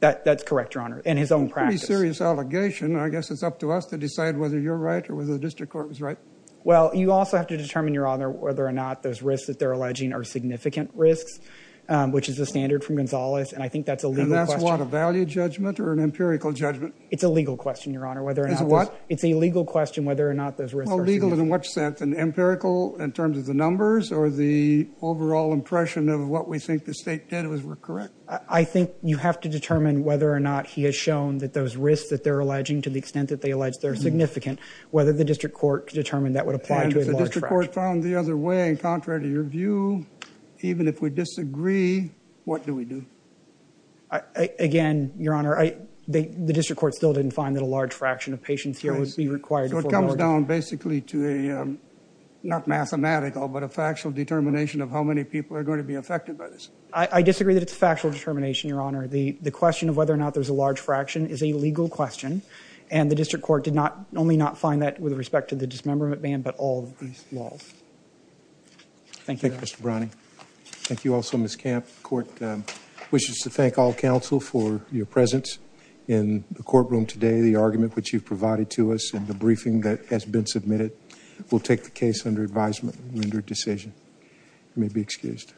That's correct, Your Honour, in his own practice. It's a pretty serious allegation. I guess it's up to us to decide whether you're right or whether the district court was right. Well, you also have to determine, Your Honour, whether or not those risks that they're alleging are significant risks, which is the standard from Gonzales. And I think that's a legal question. And that's what, a value judgment or an empirical judgment? It's a legal question, Your Honour. It's a what? It's a legal question whether or not those risks are significant. Well, legal in what sense? An empirical in terms of the numbers or the overall impression of what we think the state did was correct? I think you have to determine whether or not he has shown that those risks that they're alleging, to the extent that they allege they're significant, whether the district court determined that would apply to a large fraction. And if the district court found the other way in contrary to your view, even if we disagree, what do we do? Again, Your Honour, the district court still didn't find that a large fraction of patients here would be required. So it comes down basically to a, not mathematical, but a factual determination of how many people are going to be affected by this? I disagree that it's a factual determination, Your Honour. The question of whether or not there's a large fraction is a legal question. And the district court did only not find that with respect to the dismemberment ban, but all of these laws. Thank you. Thank you, Mr. Browning. Thank you also, Ms. Camp. The court wishes to thank all counsel for your presence in the courtroom today. The argument which you've provided to us in the briefing that has been submitted will take the case under advisement and rendered decision. You may be excused.